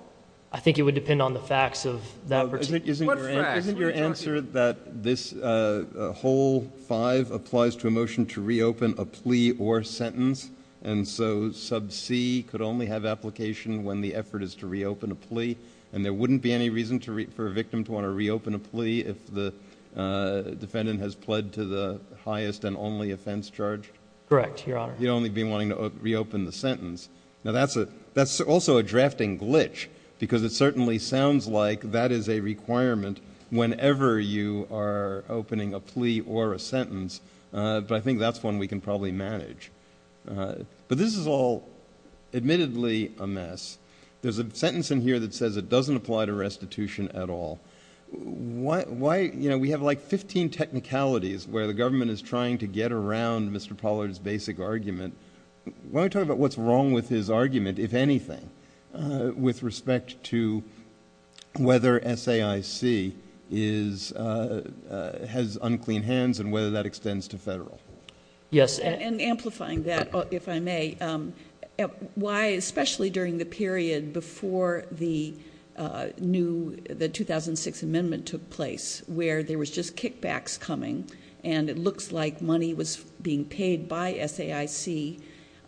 I think it would depend on the facts of that— Isn't your answer that this whole 5 applies to a motion to reopen a plea or sentence, and so sub C could only have application when the effort is to reopen a plea, and there wouldn't be any reason for a victim to want to reopen a plea if the defendant has pled to the highest and only offense charge? Correct, Your Honor. He'd only be wanting to reopen the sentence. Now that's also a drafting glitch, because it certainly sounds like that is a requirement whenever you are opening a plea or a sentence, but I think that's one we can probably manage. But this is all admittedly a mess. There's a sentence in here that says it doesn't apply to restitution at all. We have like 15 technicalities where the government is trying to get around Mr. Pollard's basic argument. Why don't we talk about what's wrong with his argument, if anything, with respect to whether SAIC has unclean hands and whether that extends to federal? Yes, and amplifying that, if I may. Why, especially during the period before the 2006 amendment took place, where there was just kickbacks coming, and it looks like money was being paid by SAIC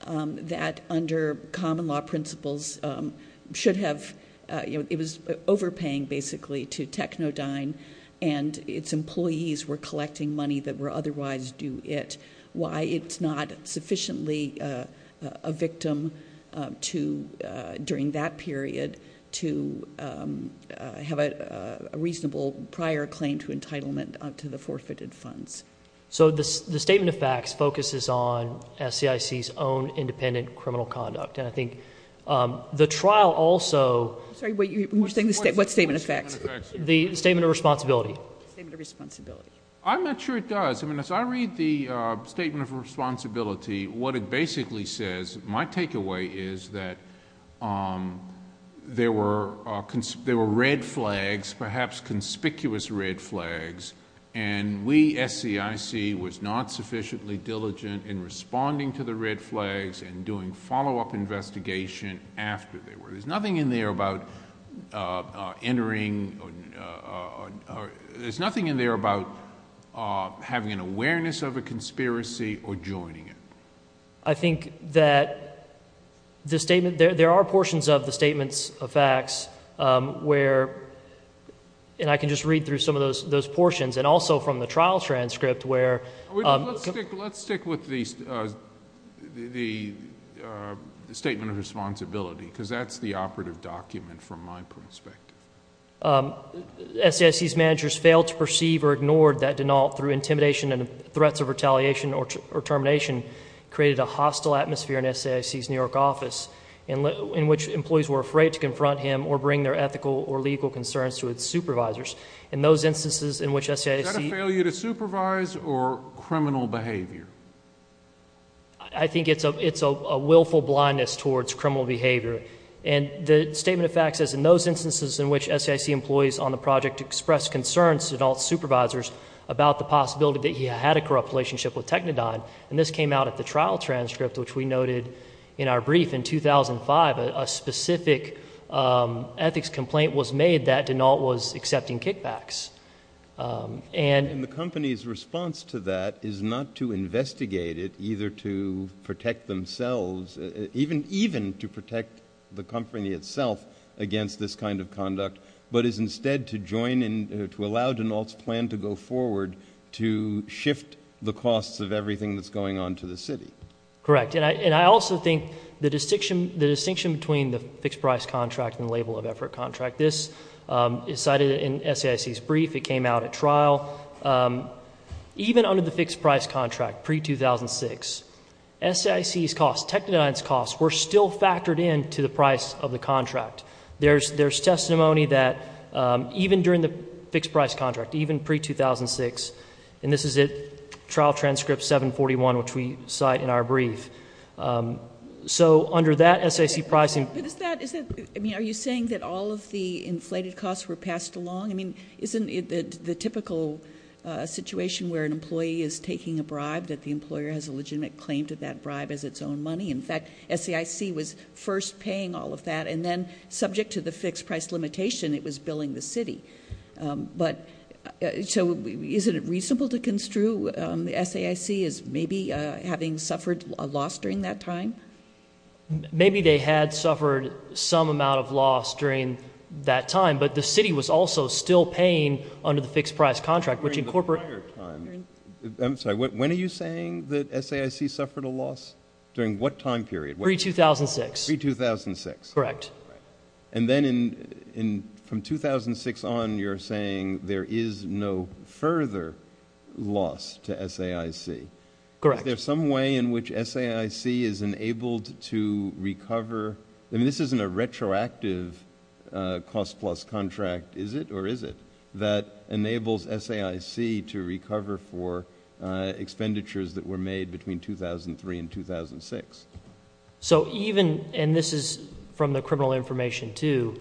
that, under common law principles, should have... It was overpaying, basically, to Technodyne, and its employees were collecting money that would otherwise do it. Why it's not sufficiently a victim during that period to have a reasonable prior claim to entitlement to the forfeited funds. So the statement of facts focuses on SAIC's own independent criminal conduct, and I think the trial also... Sorry, what statement of facts? I'm not sure it does. As I read the statement of responsibility, what it basically says, my takeaway is that there were red flags, perhaps conspicuous red flags, and we, SAIC, was not sufficiently diligent in responding to the red flags and doing follow-up investigation after they were... There's nothing in there about entering... There's nothing in there about having an awareness of a conspiracy or joining it. I think that the statement... There are portions of the statements of facts where... And I can just read through some of those portions, and also from the trial transcript, where... Let's stick with the statement of responsibility, because that's the operative document from my perspective. SAIC's managers failed to perceive or ignored that denial through intimidation and threats of retaliation or termination created a hostile atmosphere in SAIC's New York office, in which employees were afraid to confront him or bring their ethical or legal concerns to his supervisors. In those instances in which SAIC... Criminal behavior. I think it's a willful blindness towards criminal behavior. And the statement of facts says, in those instances in which SAIC employees on the project expressed concerns to Denault's supervisors about the possibility that he had a corrupt relationship with Technodyne, and this came out at the trial transcript, which we noted in our brief in 2005, a specific ethics complaint was made that Denault was accepting kickbacks. And... And the company's response to that is not to investigate it, either to protect themselves, even to protect the company itself against this kind of conduct, but is instead to join in, to allow Denault's plan to go forward to shift the costs of everything that's going on to the city. Correct. And I also think the distinction between the fixed price contract and label of effort contract, this is cited in SAIC's brief, it came out at trial. Even under the fixed price contract, pre-2006, SAIC's costs, Technodyne's costs were still factored in to the price of the contract. There's... There's testimony that even during the fixed price contract, even pre-2006, and this is it, trial transcript 741, which we cite in our brief. So under that SAIC pricing... I mean, are you saying that all of the inflated costs were passed along? I mean, isn't it the typical situation where an employee is taking a bribe, that the employer has a legitimate claim to that bribe as its own money? In fact, SAIC was first paying all of that, and then subject to the fixed price limitation, it was billing the city. But... So isn't it reasonable to construe SAIC as maybe having suffered a loss during that time? Maybe they had suffered some amount of loss during that time, but the city was also still paying under the fixed price contract, which incorporated... During the prior time. I'm sorry, when are you saying that SAIC suffered a loss? During what time period? Pre-2006. Pre-2006. Correct. And then in... From 2006 on, you're saying there is no further loss to SAIC. Correct. Is there some way in which SAIC is enabled to recover? I mean, this isn't a retroactive cost-plus contract, is it, or is it, that enables SAIC to recover for expenditures that were made between 2003 and 2006? So even, and this is from the criminal information too,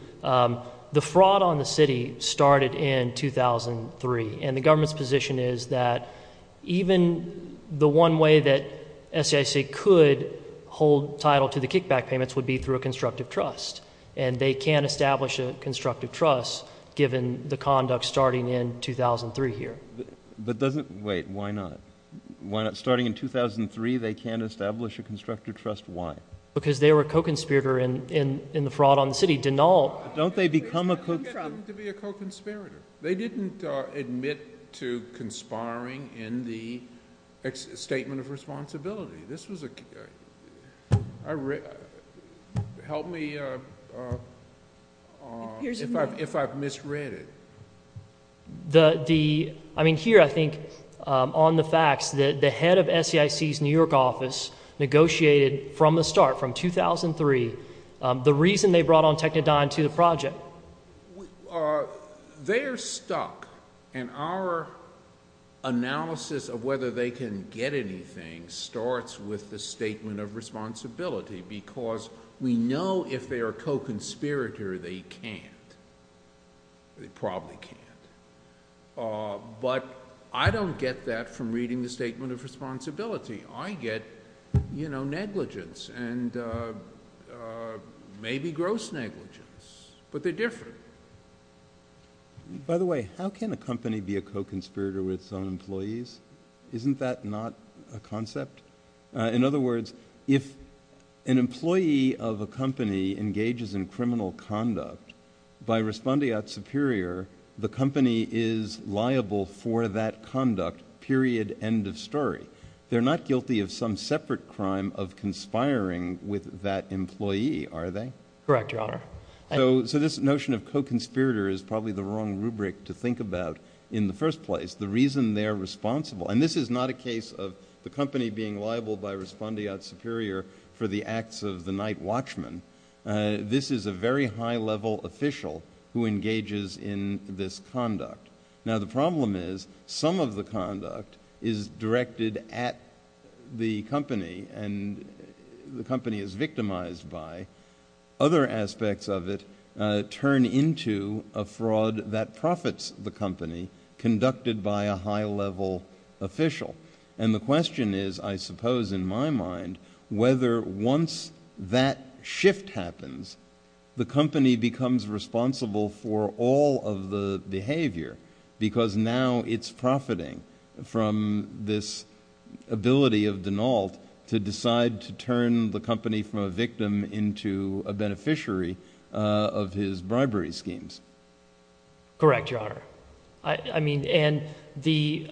the fraud on the city started in 2003, and the government's position is that even the one way that SAIC could hold title to the kickback payments would be through a constructive trust, and they can't establish a constructive trust given the conduct starting in 2003 here. But doesn't, wait, why not? Starting in 2003, they can't establish a constructive trust, why? Because they were a co-conspirator in the fraud on the city. Don't they become a co-conspirator? They didn't get to be a co-conspirator. They didn't admit to conspiring in the statement of responsibility. This was a, help me if I've misread it. The, I mean, here, I think, on the facts, the head of SAIC's New York office negotiated from the start, from 2003, the reason they brought on Technodyne to the project. So, they're stuck, and our analysis of whether they can get anything starts with the statement of responsibility, because we know if they're a co-conspirator, they can't. They probably can't. But I don't get that from reading the statement of responsibility. I get, you know, negligence, and maybe gross negligence, but they're different. By the way, how can a company be a co-conspirator with some employees? Isn't that not a concept? In other words, if an employee of a company engages in criminal conduct, by responding out superior, the company is liable for that conduct, period, end of story. They're not guilty of some separate crime of conspiring with that employee, are they? Correct, your honor. So, this notion of co-conspirator is probably the wrong rubric to think about in the first place. The reason they're responsible, and this is not a case of the company being liable by responding out superior for the acts of the night watchman. This is a very high-level official who engages in this conduct. Now, the problem is, some of the conduct is directed at the company, and the company is victimized by. Other aspects of it turn into a fraud that profits the company, conducted by a high-level official. And the question is, I suppose, in my mind, whether once that shift happens, the company becomes responsible for all of the behavior, because now it's profiting from this ability of Denault to decide to turn the company from a victim into a beneficiary of his bribery schemes. Correct, your honor. And the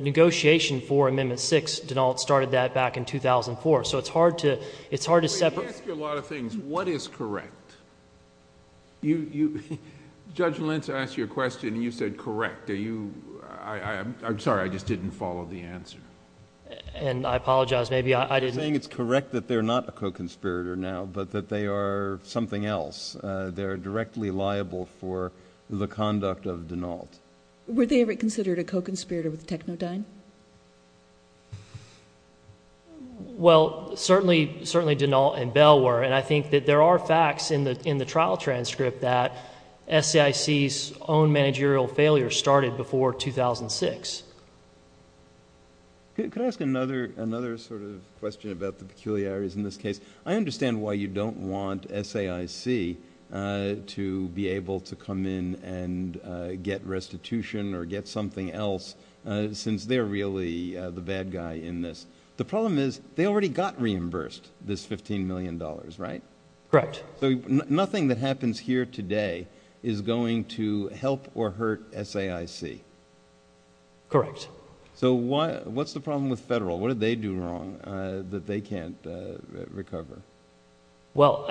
negotiation for Amendment 6, Denault started that back in 2004. So, it's hard to separate. I ask you a lot of things. What is correct? Judge Lentz asked you a question, and you said correct. Are you, I'm sorry, I just didn't follow the answer. And I apologize, maybe I didn't. You're saying it's correct that they're not a co-conspirator now, but that they are something else. They're directly liable for the conduct of Denault. Were they ever considered a co-conspirator with TechnoDyn? Well, certainly, certainly Denault and Bell were. And I think that there are facts in the trial transcript that SAIC's own managerial failure started before 2006. Could I ask another sort of question about the peculiarities in this case? I understand why you don't want SAIC to be able to come in and get restitution or get something else, since they're really the bad guy in this. The problem is, they already got reimbursed this $15 million, right? Correct. So, nothing that happens here today is going to help or hurt SAIC? Correct. So, what's the problem with federal? What did they do wrong that they can't recover? Well,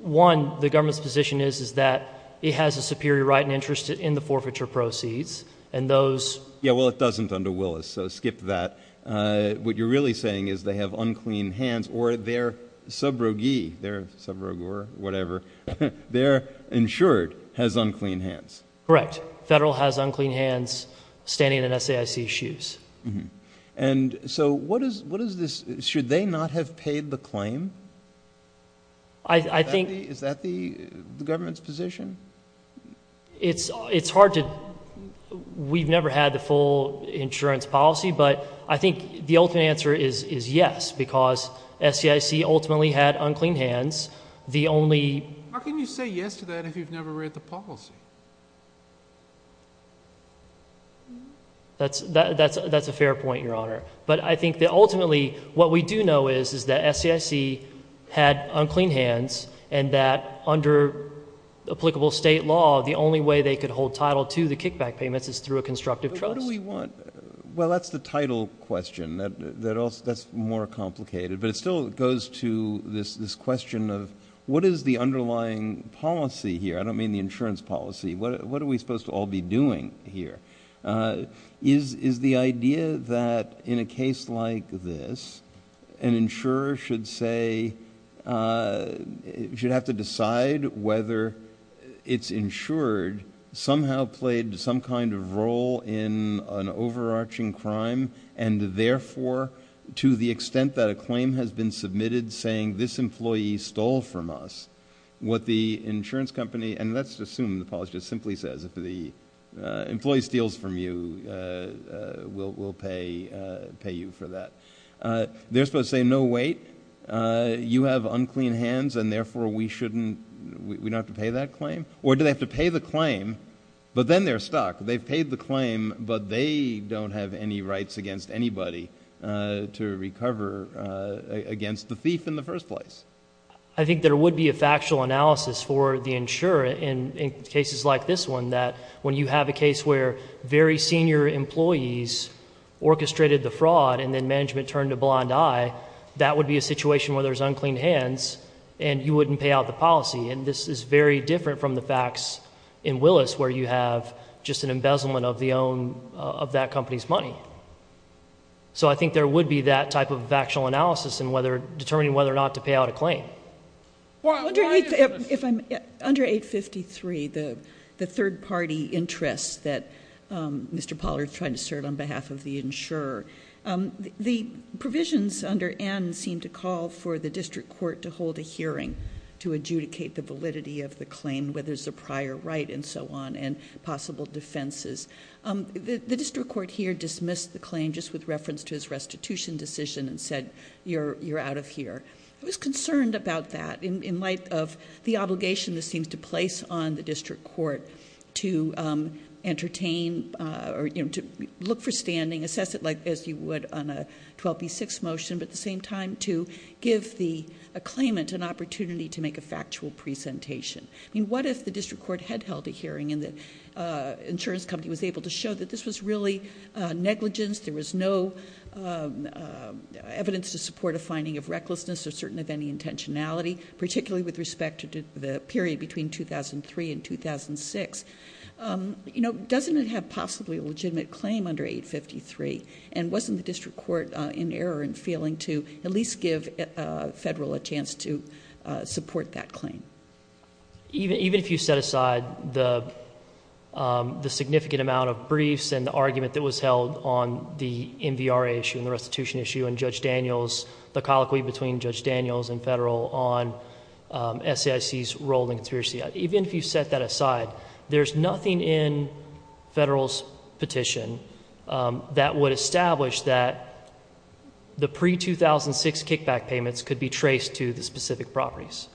one, the government's decision is that it has a superior right and interest in the Yeah, well, it doesn't under Willis, so skip that. What you're really saying is they have unclean hands or their sub-roguee, their insured has unclean hands. Correct. Federal has unclean hands standing in SAIC's shoes. And so, what is this? Should they not have paid the claim? I think Is that the government's position? It's hard to, we've never had the full insurance policy, but I think the ultimate answer is yes, because SAIC ultimately had unclean hands. The only How can you say yes to that if you've never read the policy? That's a fair point, Your Honor. But I think that ultimately, what we do know is, is that SAIC had unclean hands and that under applicable state law, the only way they could hold title to the kickback payment is through a constructive trust. But what do we want? Well, that's the title question that's more complicated, but it still goes to this question of what is the underlying policy here? I don't mean the insurance policy. What are we supposed to all be doing here? Is the idea that in a case like this, an insurer should say, we should have to decide whether it's insured, somehow played some kind of role in an overarching crime, and therefore, to the extent that a claim has been submitted saying this employee stole from us, what the insurance company and let's assume the policy simply says, if the employee steals from you, we'll pay you for that. They're supposed to say, no, wait, you have unclean hands, and therefore, we shouldn't, we don't have to pay that claim? Or do they have to pay the claim, but then they're stuck. They've paid the claim, but they don't have any rights against anybody to recover against the thief in the first place. I think there would be a factual analysis for the insurer in cases like this one that when you have a case where very senior employees orchestrated the fraud and then management turned a blind eye, that would be a situation where there's unclean hands, and you wouldn't pay out the policy. And this is very different from the facts in Willis where you have just an embezzlement of the own, of that company's money. So I think there would be that type of factual analysis in determining whether or not to pay out a claim. I wonder if, under 853, the third party interest that Mr. Pollard's trying to assert on behalf of the insurer, the provisions under N seem to call for the district court to hold a hearing to adjudicate the validity of the claim, whether it's a prior right and so on, and possible defenses. The district court here dismissed the claim just with reference to his restitution decision and said, you're out of here. I was concerned about that in light of the obligation this seems to place on the district court to entertain or to look for standing, assess it as you would on a 12B6 motion, but at the same time to give the claimant an opportunity to make a factual presentation. What if the district court had held a hearing and the insurance company was able to show that this was really negligence, there was no evidence to support a finding of recklessness or certain of any intentionality, particularly with respect to the period between 2003 and 2006, you know, doesn't it have possibly a legitimate claim under 853, and wasn't the district court in error in feeling to at least give federal a chance to support that claim? Even if you set aside the significant amount of briefs and the argument that was held on the NBRA issue and the restitution issue and Judge Daniels, the colloquy between Judge There's nothing in federal's petition that would establish that the pre-2006 kickback payments could be traced to the specific properties,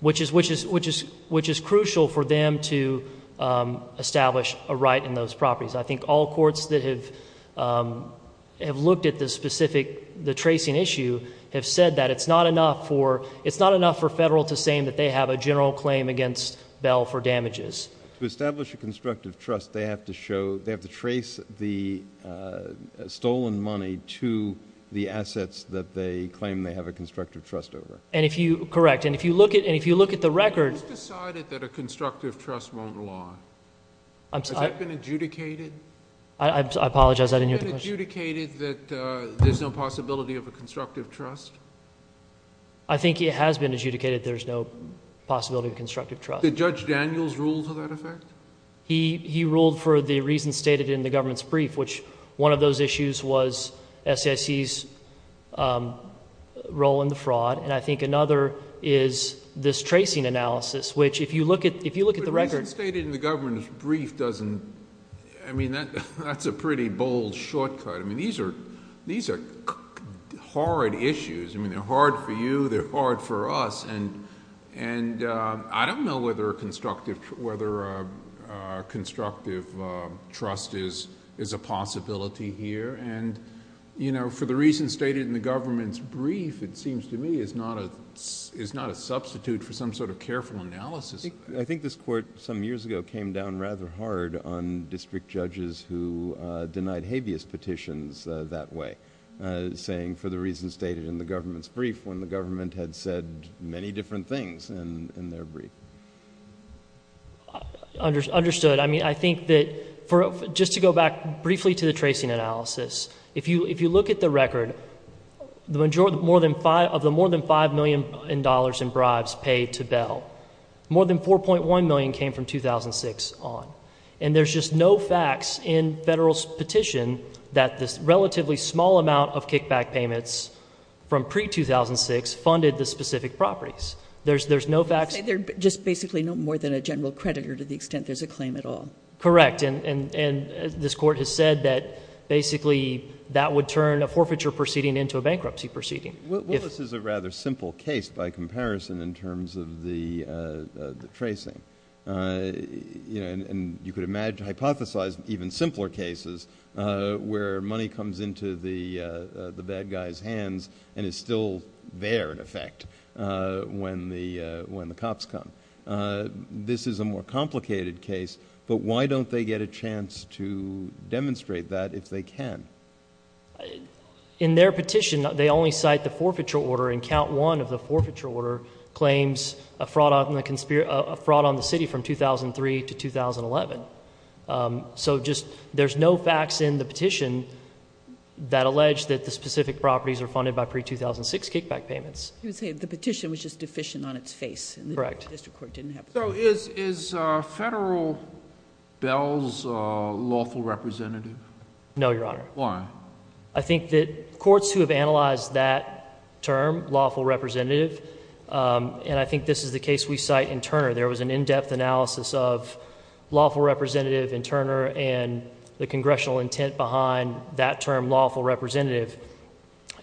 which is crucial for them to establish a right in those properties. I think all courts that have looked at the specific, the tracing issue have said that it's not enough for federal to say that they have a general claim against Bell for damages. To establish a constructive trust, they have to show, they have to trace the stolen money to the assets that they claim they have a constructive trust over. And if you, correct, and if you look at the record. Who decided that a constructive trust won't go on? Has that been adjudicated? I apologize, I didn't hear the question. Has it been adjudicated that there's no possibility of a constructive trust? I think it has been adjudicated there's no possibility of constructive trust. Did Judge Daniels rule to that effect? He ruled for the reason stated in the government's brief, which one of those issues was SSE's role in the fraud. And I think another is this tracing analysis, which if you look at, if you look at the record. But the reason stated in the government's brief doesn't, I mean, that's a pretty bold shortcut. I mean, these are, these are hard issues. I mean, they're hard for you. They're hard for us. And, and I don't know whether a constructive, whether a constructive trust is, is a possibility here. And, you know, for the reason stated in the government's brief, it seems to me is not a, is not a substitute for some sort of careful analysis. I think this court some years ago came down rather hard on district judges who denied habeas petitions that way, saying for the reason stated in the government's brief, when the government had said many different things in their brief. Understood. I mean, I think that for, just to go back briefly to the tracing analysis, if you, if you look at the record, the majority, more than five of the more than $5 million in bribes paid to Bell, more than 4.1 million came from 2006 on. And there's just no facts in federal petition that this relatively small amount of kickback payments from pre-2006 funded the specific properties. There's, there's no facts. And they're just basically no more than a general creditor to the extent there's a claim at all. Correct. And, and, and this court has said that basically that would turn a forfeiture proceeding into a bankruptcy proceeding. Well, this is a rather simple case by comparison in terms of the, the tracing. You know, and you could imagine hypothesized even simpler cases where money comes into the, the bad guy's hands and it's still there in effect when the, when the cops come. This is a more complicated case, but why don't they get a chance to demonstrate that if they can? In their petition, they only cite the forfeiture order in count one of the forfeiture order claims a fraud on the conspiracy, a fraud on the city from 2003 to 2011. So just, there's no facts in the petition that allege that the specific properties are funded by pre-2006 kickback payments. Okay. The petition was just deficient on its face. Correct. The district court didn't have. So is, is federal bills lawful representative? No, Your Honor. Why? I think that courts who have analyzed that term lawful representative. And I think this is the case we cite in Turner. There was an in-depth analysis of lawful representative in Turner and the congressional intent behind that term lawful representative.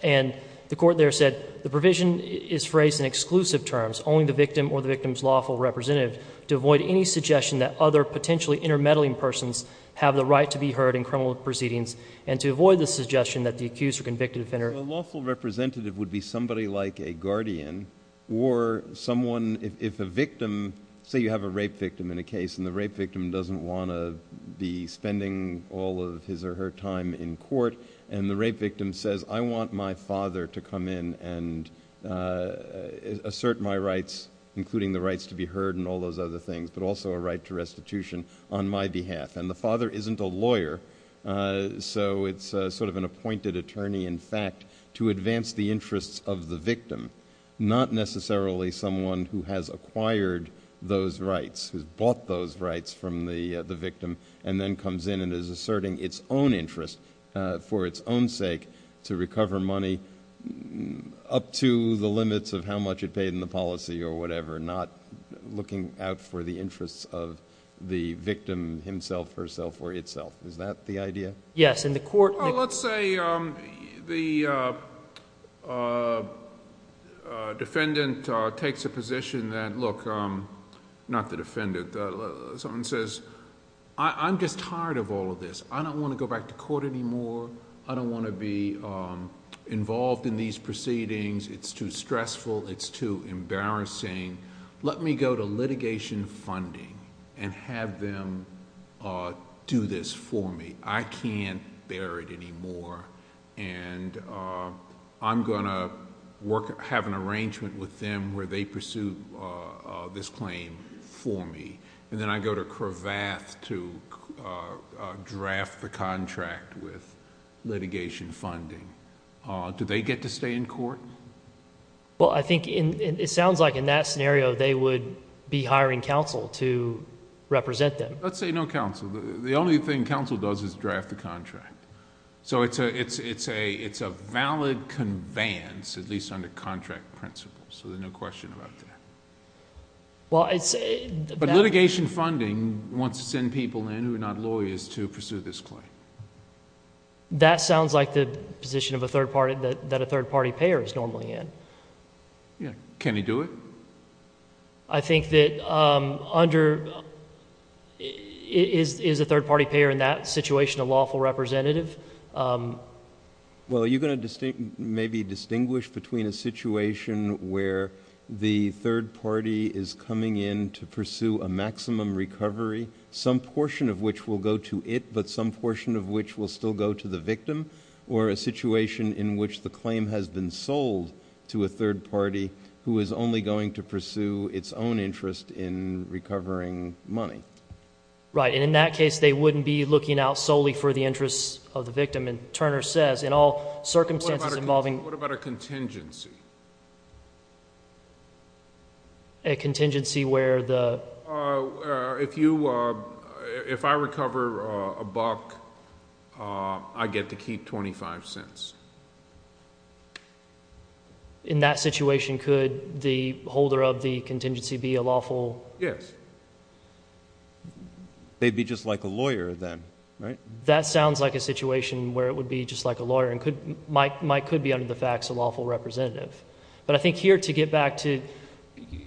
And the court there said the provision is phrased in exclusive terms, only the victim or the victim's lawful representative to avoid any suggestion that other potentially intermeddling persons have the right to be heard in criminal proceedings. And to avoid the suggestion that the accused or convicted offender. A lawful representative would be somebody like a guardian or someone, if a victim, say you have a rape victim in a case and the rape victim doesn't want to be spending all of his or her time in court. And the rape victim says, I want my father to come in and assert my rights, including the rights to be heard and all those other things, but also a right to restitution on my behalf. And the father isn't a lawyer. So it's sort of an appointed attorney, in fact, to advance the interests of the victim, not necessarily someone who has acquired those rights, who bought those rights from the victim and then comes in and is asserting its own interest for its own sake to recover money up to the limits of how much it paid in the policy or whatever, not looking out for the victim herself or itself. Is that the idea? Yes. In the court. Let's say the defendant takes a position that, look, not the defendant, someone says, I'm just tired of all of this. I don't want to go back to court anymore. I don't want to be involved in these proceedings. It's too stressful. It's too embarrassing. Let me go to litigation funding and have them do this for me. I can't bear it anymore. And I'm going to have an arrangement with them where they pursue this claim for me. And then I go to Cravath to draft the contract with litigation funding. Do they get to stay in court? Well, I think it sounds like in that scenario, they would be hiring counsel to represent them. Let's say no counsel. The only thing counsel does is draft a contract. So it's a valid conveyance, at least under contract principles. So there's no question about that. But litigation funding wants to send people in who are not lawyers to pursue this claim. And that sounds like the position of a third party that a third party payer is normally in. Can you do it? I think that under, is a third party payer in that situation a lawful representative? Well, are you going to maybe distinguish between a situation where the third party is coming in to pursue a maximum recovery, some portion of which will go to it, but some portion of which will still go to the victim, or a situation in which the claim has been sold to a third party who is only going to pursue its own interest in recovering money? Right. And in that case, they wouldn't be looking out solely for the interests of the victim. And Turner says, in all circumstances involving... What about a contingency? A contingency where the... If you, if I recover a buck, I get to keep 25 cents. In that situation, could the holder of the contingency be a lawful... Yes. They'd be just like a lawyer then, right? That sounds like a situation where it would be just like a lawyer and might could be under the facts a lawful representative. But I think here to get back to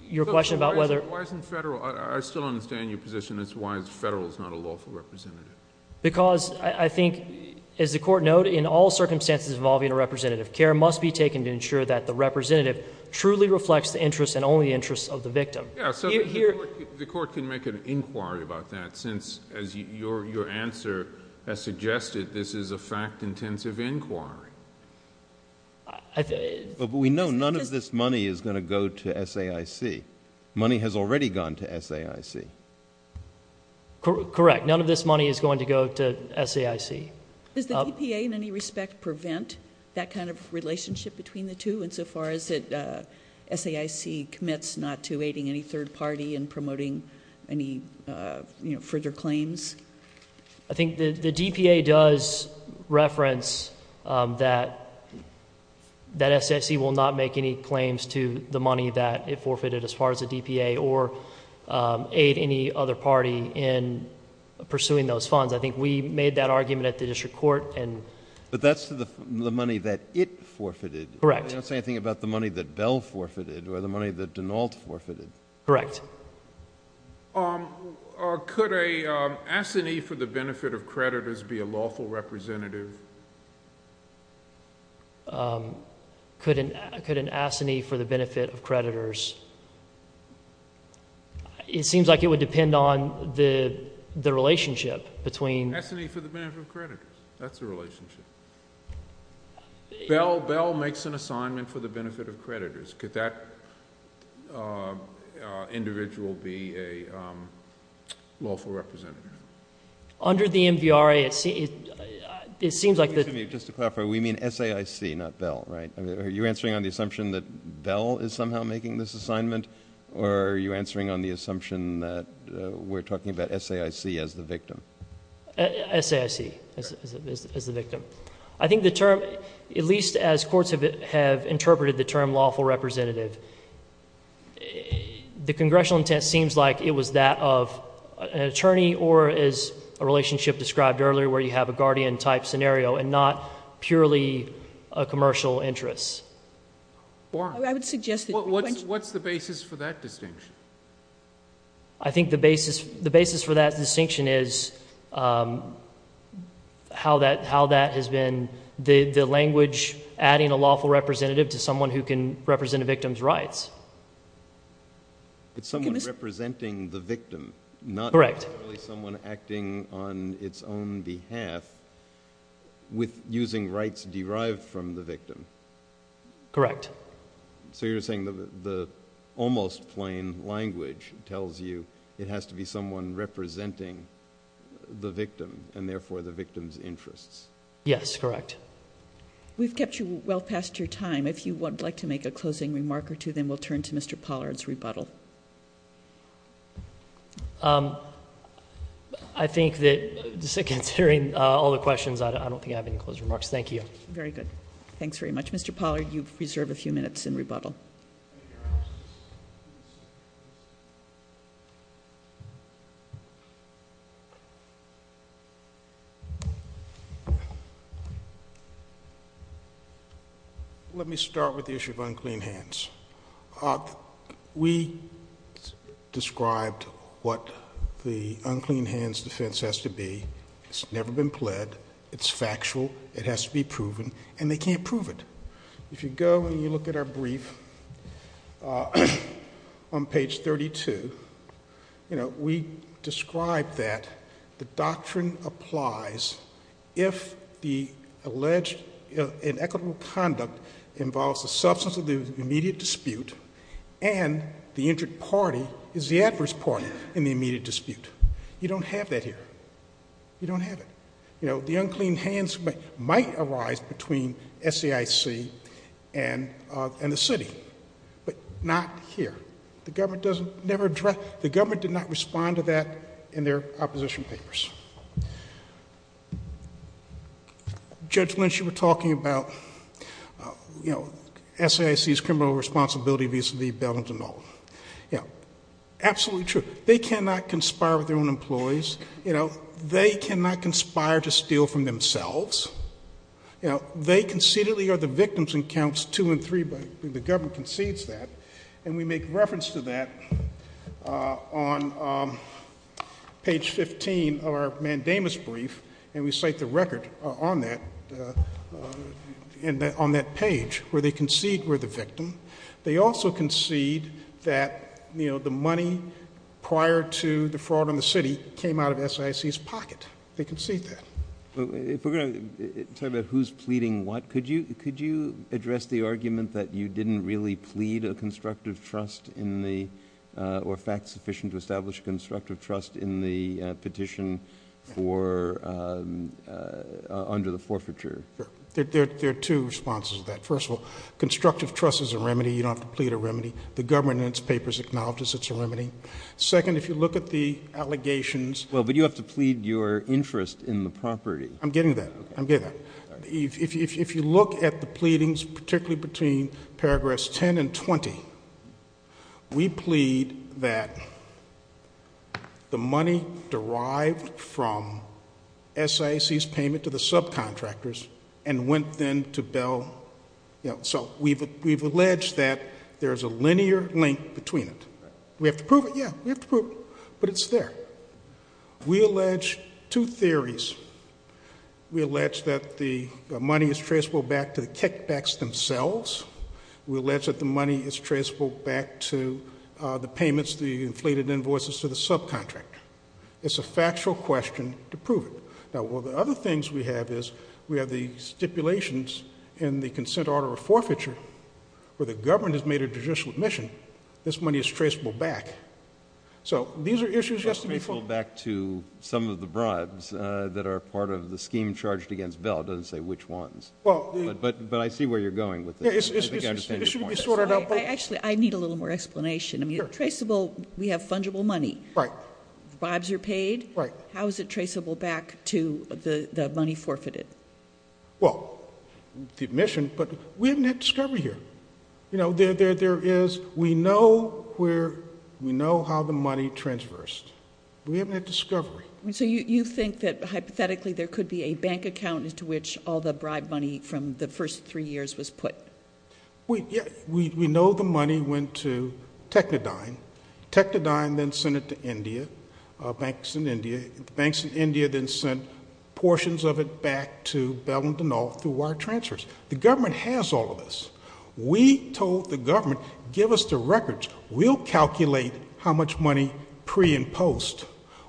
your question about whether... I still understand your position as to why it's federal, it's not a lawful representative. Because I think, as the court noted, in all circumstances involving a representative, care must be taken to ensure that the representative truly reflects the interests and only interests of the victim. The court can make an inquiry about that since, as your answer has suggested, this is a fact-intensive inquiry. We know none of this money is going to go to SAIC. Money has already gone to SAIC. Correct. None of this money is going to go to SAIC. Does the DPA in any respect prevent that kind of relationship between the two, insofar as SAIC commits not to aiding any third party in promoting any further claims? I think the DPA does reference that SAIC will not make any claims to the money that it forfeited as far as the DPA or aid any other party in pursuing those funds. I think we made that argument at the district court and... But that's the money that it forfeited. Correct. I didn't say anything about the money that Bell forfeited or the money that Denault forfeited. Correct. Could an assignee for the benefit of creditors be a lawful representative? Could an assignee for the benefit of creditors... It seems like it would depend on the relationship between... Assignee for the benefit of creditors. That's the relationship. Bell makes an assignment for the benefit of creditors. Could that individual be a lawful representative? Just to clarify, we mean SAIC, not Bell, right? Are you answering on the assumption that Bell is somehow making this assignment, or are you answering on the assumption that we're talking about SAIC as the victim? SAIC as the victim. I think the term, at least as courts have interpreted the term lawful representative, the congressional intent seems like it was that of an attorney or as a relationship described earlier where you have a guardian type scenario and not purely a commercial interest. What's the basis for that distinction? I think the basis for that distinction is how that has been the language adding a lawful representative to someone who can represent a victim's rights. It's someone representing the victim, not... Correct. Someone acting on its own behalf with using rights derived from the victim. Correct. So you're saying that the almost plain language tells you it has to be someone representing the victim and therefore the victim's interests? Yes, correct. We've kept you well past your time. If you would like to make a closing remark or two, then we'll turn to Mr. Pollard's rebuttal. I think that considering all the questions, I don't think I have any closing remarks. Thank you. Very good. Thanks very much, Mr. Pollard. You've preserved a few minutes in rebuttal. Let me start with the issue of unclean hands. We described what the unclean hands defense has to be. It's never been pled. It's factual. It has to be proven. And they can't prove it. If you go and you look at our brief on page 32, you know, we describe that the doctrine applies if the alleged inequitable condom involves the substance of the immediate dispute and the injured party is the adverse party in the immediate dispute. You don't have that here. You don't have it. You know, the unclean hands might arise between SAIC and the city, but not here. The government does never address, the government did not respond to that in their opposition papers. Judge Lynch, you were talking about, you know, SAIC's criminal responsibility, these are the bevels and all. Yeah, absolutely true. They cannot conspire with their own employees. You know, they cannot conspire to steal from themselves. You know, they conceded the other victims in counts two and three, but the government concedes that. And we make reference to that on page 15 of our mandamus brief. And we cite the record on that, on that page where they concede we're the victim. They also concede that, you know, the money prior to the fraud on the city came out of SAIC's pocket. They concede that. If we're going to talk about who's pleading what, could you address the argument that you didn't really plead a constructive trust in the, or fact sufficient to establish a constructive trust in the petition for, under the forfeiture? There are two responses to that. First of all, constructive trust is a remedy. You don't have to plead a remedy. The governance papers acknowledge it's a remedy. Second, if you look at the allegations. Well, but you have to plead your interest in the property. I'm getting there. I'm getting there. If you look at the pleadings, particularly between paragraphs 10 and 20, we plead that the money derived from SAIC's payment to the subcontractors and went then to Bell. So we've alleged that there's a linear link between it. We have to prove it, yeah. We have to prove it. But it's there. We allege two theories. We allege that the money is traceable back to the kickbacks themselves. We allege that the money is traceable back to the payments, the inflated invoices to the subcontractor. It's a factual question to prove it. Now, one of the other things we have is we have the stipulations in the consent order of forfeiture where the government has made a judicial admission. This money is traceable back. So these are issues just to be formed. Let me go back to some of the bribes that are part of the scheme charged against Bell. It doesn't say which ones, but I see where you're going with this. It should be sorted out by— Actually, I need a little more explanation. I mean, traceable, we have fungible money. Right. Bribes are paid. Right. How is it traceable back to the money forfeited? Well, you've mentioned, but we didn't discover here. You know, there is—we know where—we know how the money transfers. We haven't had discovery. So you think that, hypothetically, there could be a bank account into which all the bribe money from the first three years was put? We know the money went to Technodyne. Technodyne then sent it to India, banks in India. Banks in India then sent portions of it back to Belmont and all through wire transfers. The government has all of this. We told the government, give us the records. We'll calculate how much money pre and post.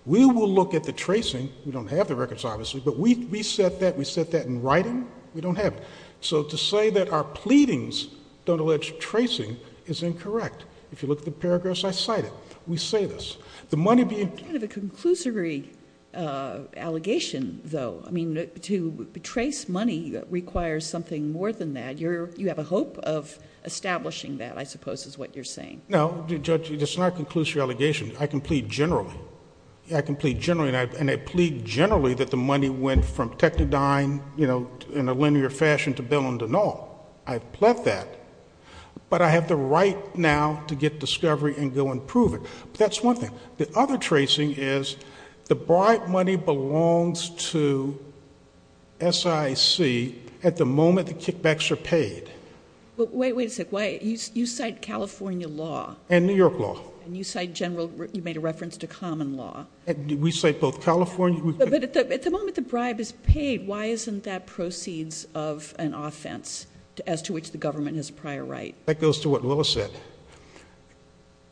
We will look at the tracing. We don't have the records, obviously, but we set that. We set that in writing. We don't have it. So to say that our pleadings don't allege tracing is incorrect. If you look at the paragraphs I cited, we say this. The money being— It's kind of a conclusory allegation, though. I mean, to trace money requires something more than that. You have a hope of establishing that, I suppose, is what you're saying. No, Judge, it's not a conclusory allegation. I can plead generally. I can plead generally, and I plead generally that the money went from Technodyne, you know, in a linear fashion to Belmont and all. I've pled that. But I have the right now to get discovery and go and prove it. That's one thing. The other tracing is the bribe money belongs to SIC at the moment the kickbacks are paid. But wait, wait a sec. Why—you cite California law. And New York law. And you cite general—you made a reference to common law. We cite both California— But at the moment the bribe is paid, why isn't that proceeds of an offense as to which the government has prior right? That goes to what Willis said,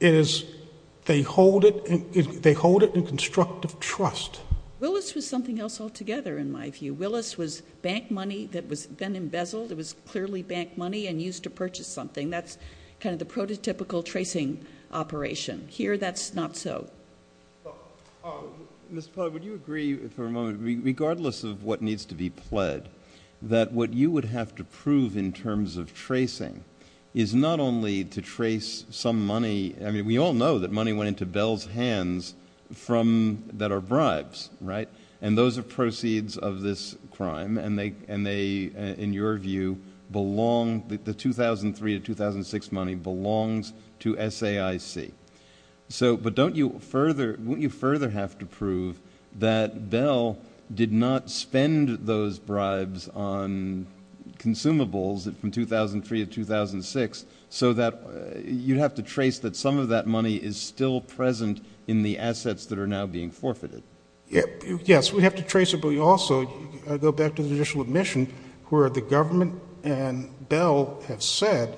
is they hold it in constructive trust. Willis was something else altogether, in my view. Willis was bank money that was then embezzled. It was clearly bank money and used to purchase something. That's kind of the prototypical tracing operation. Here, that's not so. Ms. Pollard, would you agree for a moment, regardless of what needs to be pled, that what you would have to prove in terms of tracing is not only to trace some money—I mean, we all know that money went into Bell's hands that are bribes, right? And those are proceeds of this crime. And they, in your view, belong—the 2003 to 2006 money belongs to SAIC. But don't you further—wouldn't you further have to prove that Bell did not spend those bribes on consumables from 2003 to 2006 so that you'd have to trace that some of that money is still present in the assets that are now being forfeited? Yes, we'd have to trace it. But we also, going back to the initial admission, where the government and Bell have said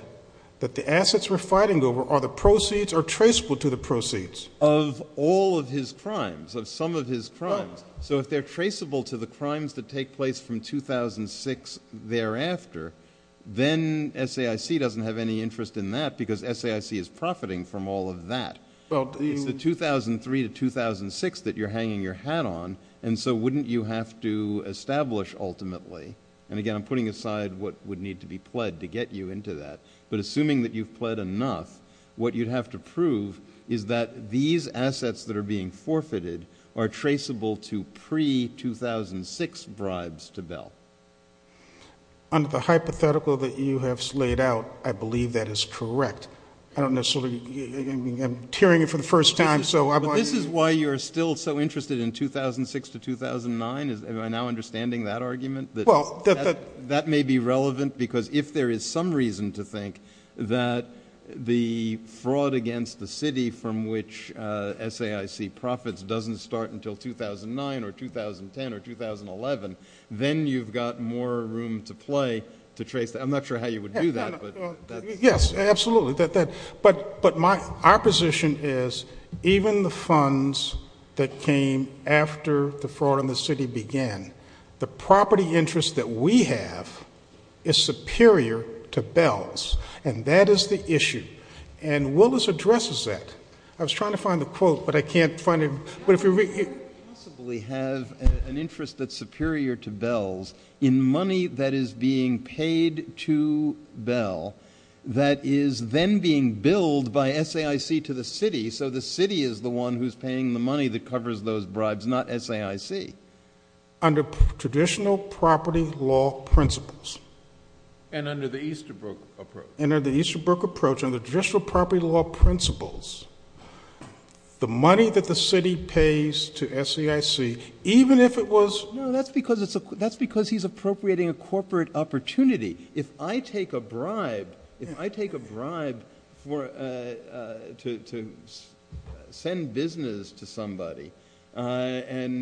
that assets were fighting over are the proceeds or traceable to the proceeds? Of all of his crimes, of some of his crimes. So if they're traceable to the crimes that take place from 2006 thereafter, then SAIC doesn't have any interest in that because SAIC is profiting from all of that. The 2003 to 2006 that you're hanging your hat on, and so wouldn't you have to establish ultimately—and again, I'm putting aside what would need to be pled to get you into that—but assuming that you've pled enough, what you'd have to prove is that these assets that are being forfeited are traceable to pre-2006 bribes to Bell. On the hypothetical that you have laid out, I believe that is correct. I don't necessarily—I'm hearing it for the first time, so I'm not— This is why you're still so interested in 2006 to 2009? Am I now understanding that argument? Well, that— That may be relevant because if there is some reason to think that the fraud against the city from which SAIC profits doesn't start until 2009 or 2010 or 2011, then you've got more room to play to trace—I'm not sure how you would do that, but— Yes, absolutely. But my opposition is even the funds that came after the fraud in the city began, the property interest that we have is superior to Bell's, and that is the issue. And Willis addresses that. I was trying to find the quote, but I can't find it. But if we possibly have an interest that's superior to Bell's in money that is being paid to Bell that is then being billed by SAIC to the city, so the city is the one who's paying the money that covers those bribes, not SAIC. Under traditional property law principles— And under the Easterbrook approach. And under the Easterbrook approach, under traditional property law principles, the money that the city pays to SAIC, even if it was— No, that's because he's appropriating a corporate opportunity. If I take a bribe, if I take a bribe to send business to somebody on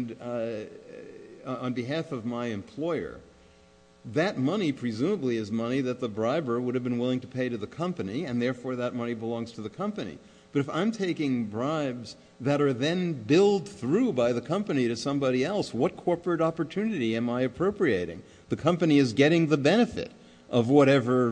behalf of my employer, that money presumably is money that the briber would have been willing to pay to the company, and therefore that money belongs to the company. But if I'm taking bribes that are then billed through by the company to somebody else, what corporate opportunity am I appropriating? The company is getting the benefit of whatever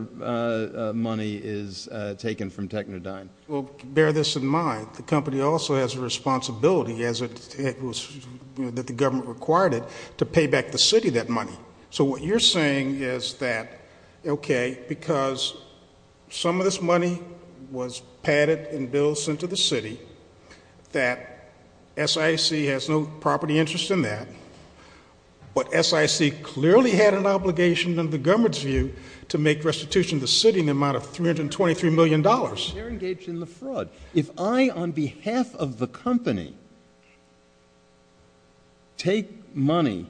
money is taken from Technodyne. Well, bear this in mind. The company also has a responsibility, as it was that the government required it, to pay back the city that money. So what you're saying is that, okay, because some of this money was padded and billed, that SAIC has no property interest in that, but SAIC clearly had an obligation, in the government's view, to make restitution to the city in the amount of $323 million. They're engaged in the fraud. If I, on behalf of the company, take money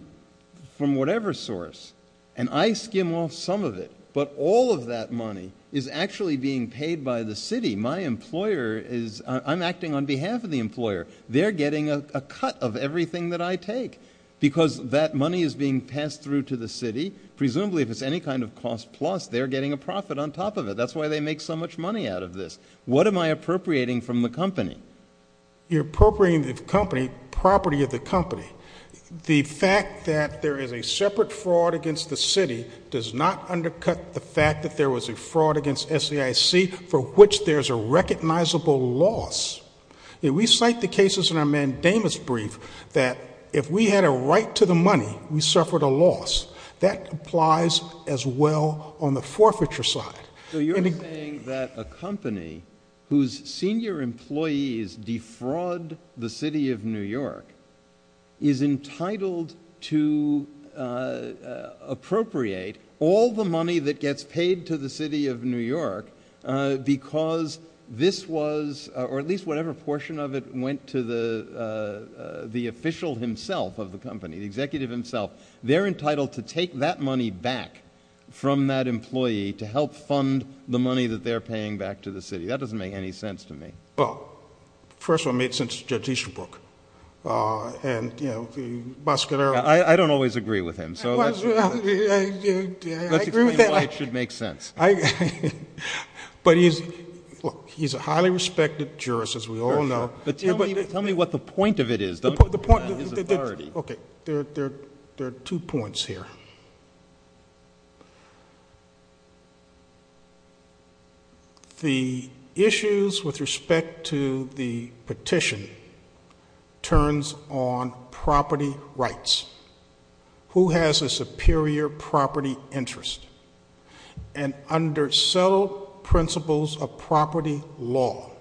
from whatever source, and I skim off some of it, but all of that money is actually being paid by the city, my employer is, I'm acting on behalf of the employer, they're getting a cut of everything that I take, because that money is being passed through to the city. Presumably, if it's any kind of cost plus, they're getting a profit on top of it. That's why they make so much money out of this. What am I appropriating from the company? You're appropriating the company, property of the company. The fact that there is a separate fraud against the city does not undercut the fact that there was a fraud against SAIC for which there's a recognizable loss. We cite the cases in our mandamus brief that if we had a right to the money, we suffered a loss. That applies as well on the forfeiture side. So you're saying that a company whose senior employees defraud the city of New York is entitled to appropriate all the money that gets paid to the city of New York because this was, or at least whatever portion of it, went to the official himself of the company, the executive himself. They're entitled to take that money back from that employee to help fund the money that they're paying back to the city. That doesn't make any sense to me. Well, first of all, it makes sense to your teaching book. I don't always agree with him, so that's a claim that should make sense. But he's a highly respected jurist, as we all know. Tell me what the point of it is. Okay, there are two points here. The issues with respect to the petition turns on property rights. Who has a superior property interest? And under subtle principles of property law,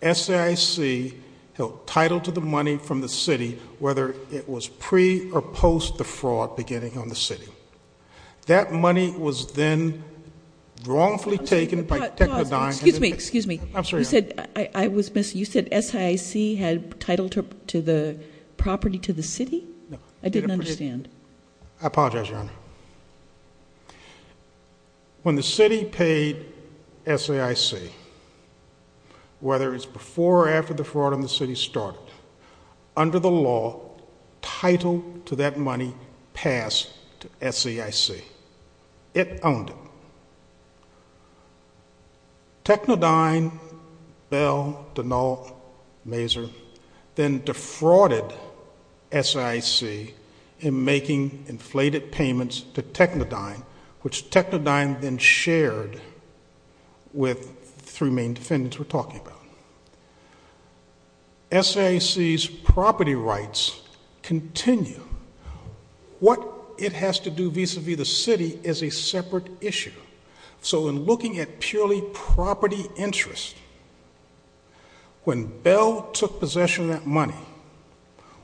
SIC held title to the money from the city, whether it was pre or post the fraud beginning on the city. That money was then wrongfully taken by... Excuse me, excuse me. You said SIC had title to the property to the city? I didn't understand. I apologize, Your Honor. When the city paid SIC, whether it was before or after the fraud on the city started, under the law, title to that money passed to SIC. It owned it. Technodyne, Bell, Denault, Maser then defrauded SIC in making inflated payments to Technodyne, which Technodyne then shared with three main defendants we're talking about. SIC's property rights continue. What it has to do vis-a-vis the city is a separate issue. So in looking at purely property interest, when Bell took possession of that money,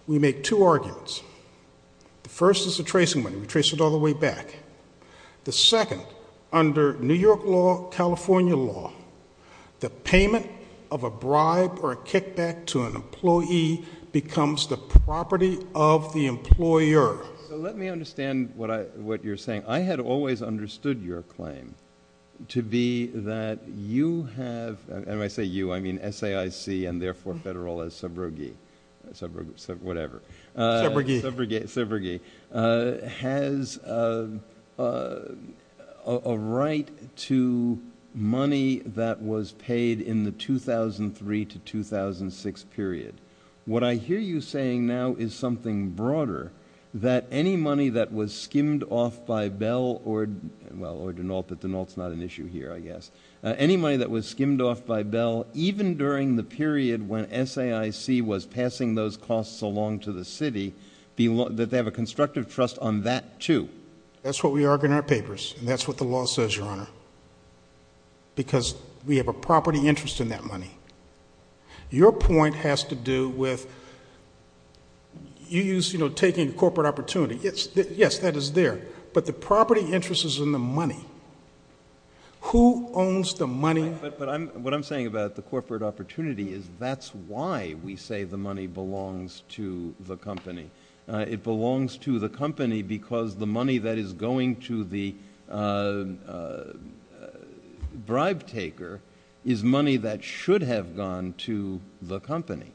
we made two arguments. The first is the tracing money. We traced it all the way back. The second, under New York law, California law, the payment of a bribe or a kickback to an employee becomes the property of the employer. Let me understand what you're saying. I had always understood your claim to be that you have... And when I say you, I mean SIC and therefore federal as subrogate. Whatever. Subrogate. Subrogate. Has a right to money that was paid in the 2003 to 2006 period. What I hear you saying now is something broader, that any money that was skimmed off by Bell or, well, or Denault, but Denault's not an issue here, I guess. Any money that was skimmed off by Bell, even during the period when SAIC was passing those costs along to the city, that they have a constructive trust on that too. That's what we argue in our papers. And that's what the law says, Your Honor. Because we have a property interest in that money. Your point has to do with... You used, you know, taking corporate opportunity. Yes, that is there. But the property interest is in the money. Who owns the money? What I'm saying about the corporate opportunity is, that's why we say the money belongs to the company. It belongs to the company because the money that is going to the bribe taker is money that should have gone to the company.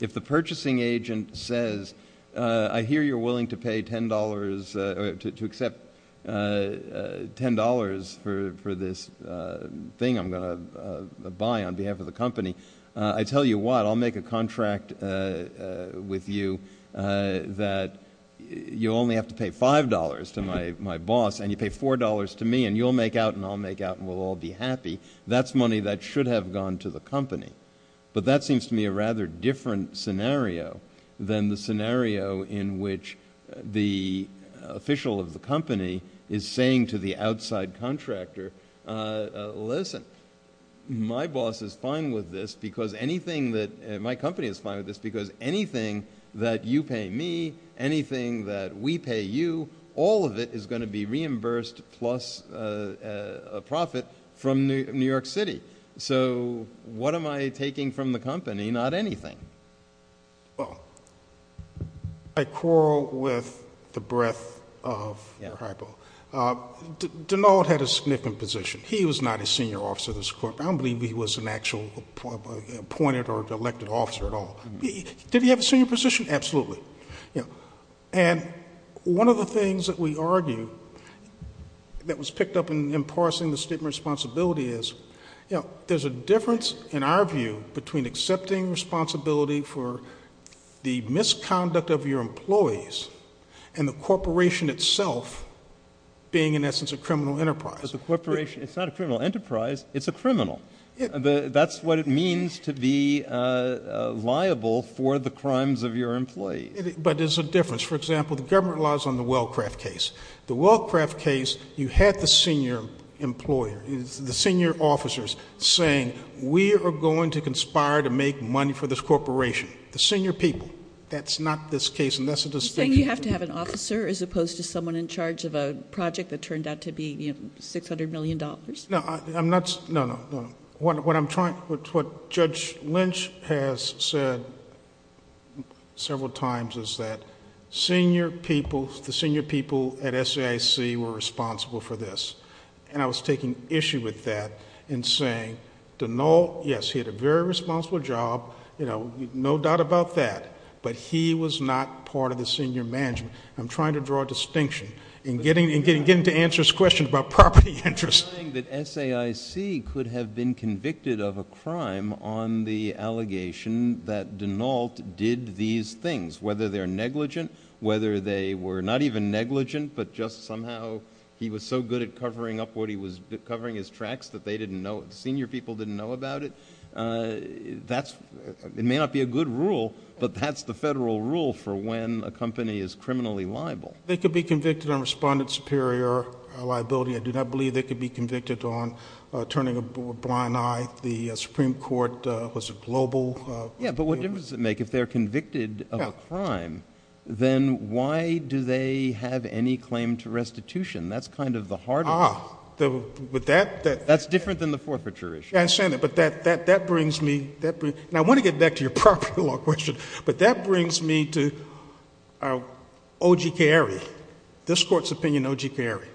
If the purchasing agent says, I hear you're willing to pay $10 to accept $10 for this thing, a buy on behalf of the company, I tell you what, I'll make a contract with you that you only have to pay $5 to my boss, and you pay $4 to me and you'll make out and I'll make out and we'll all be happy. That's money that should have gone to the company. But that seems to me a rather different scenario than the scenario in which the official of the company is saying to the outside contractor, uh, listen, my boss is fine with this because anything that, my company is fine with this because anything that you pay me, anything that we pay you, all of it is going to be reimbursed plus a profit from New York City. So what am I taking from the company? Not anything. Well, I quarrel with the breadth of your hypo. Uh, Danald had a significant position. He was not a senior officer in this court. I don't believe he was an actual appointed or elected officer at all. Did he have a senior position? Absolutely. And one of the things that we argue that was picked up in parsing the statement of responsibility is, you know, there's a difference in our view between accepting responsibility for the misconduct of your employees and the corporation itself being in essence, a criminal enterprise as a corporation. It's not a criminal enterprise. It's a criminal. That's what it means to be, uh, liable for the crimes of your employees. But there's a difference. For example, the government lies on the Wellcraft case, the Wellcraft case, you had the senior employer, the senior officers saying, we are going to conspire to make money for this corporation. The senior people. That's not this case. And that's a distinction. You have to have an officer as opposed to someone in charge of a project that turned out to be, you know, $600 million. No, I'm not. No, no, no. What I'm trying, what Judge Lynch has said several times is that senior people, the senior people at SAIC were responsible for this. And I was taking issue with that and saying, yes, he had a very responsible job. You know, no doubt about that. But he was not part of the senior management. I'm trying to draw a distinction in getting, in getting, getting to answer this question about property interest. I'm saying that SAIC could have been convicted of a crime on the allegation that Denault did these things, whether they're negligent, whether they were not even negligent, but just somehow he was so good at covering up what he was covering his tracks, that they didn't know, senior people didn't know about it. That's, it may not be a good rule, but that's the federal rule for when a company is criminally liable. They could be convicted on respondent superior liability. I do not believe they could be convicted on turning a blind eye. The Supreme Court was a global. Yeah, but what difference does it make if they're convicted of a crime, then why do they have any claim to restitution? That's kind of the hard part. But that, that's different than the forfeiture issue. Yeah, I understand that, but that, that, that brings me, that brings, now I want to get back to your property law question, but that brings me to our OGK area, this court's opinion OGK area,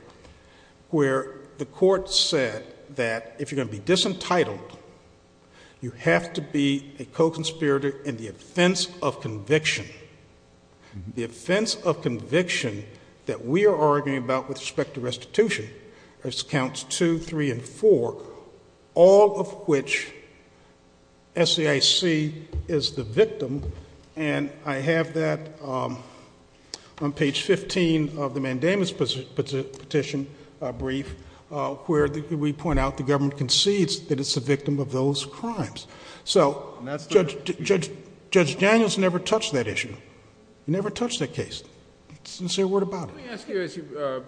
where the court said that if you're going to be disentitled, you have to be a co-conspirator in the offense of conviction. The offense of conviction that we are arguing about with respect to restitution has counts two, three, and four, all of which SAIC is the victim. And I have that on page 15 of the Mandamus petition brief, where we point out the government conceives that it's a victim of those crimes. So Judge Daniels never touched that issue. He never touched that case. Sincere word of Bob. Let me ask you to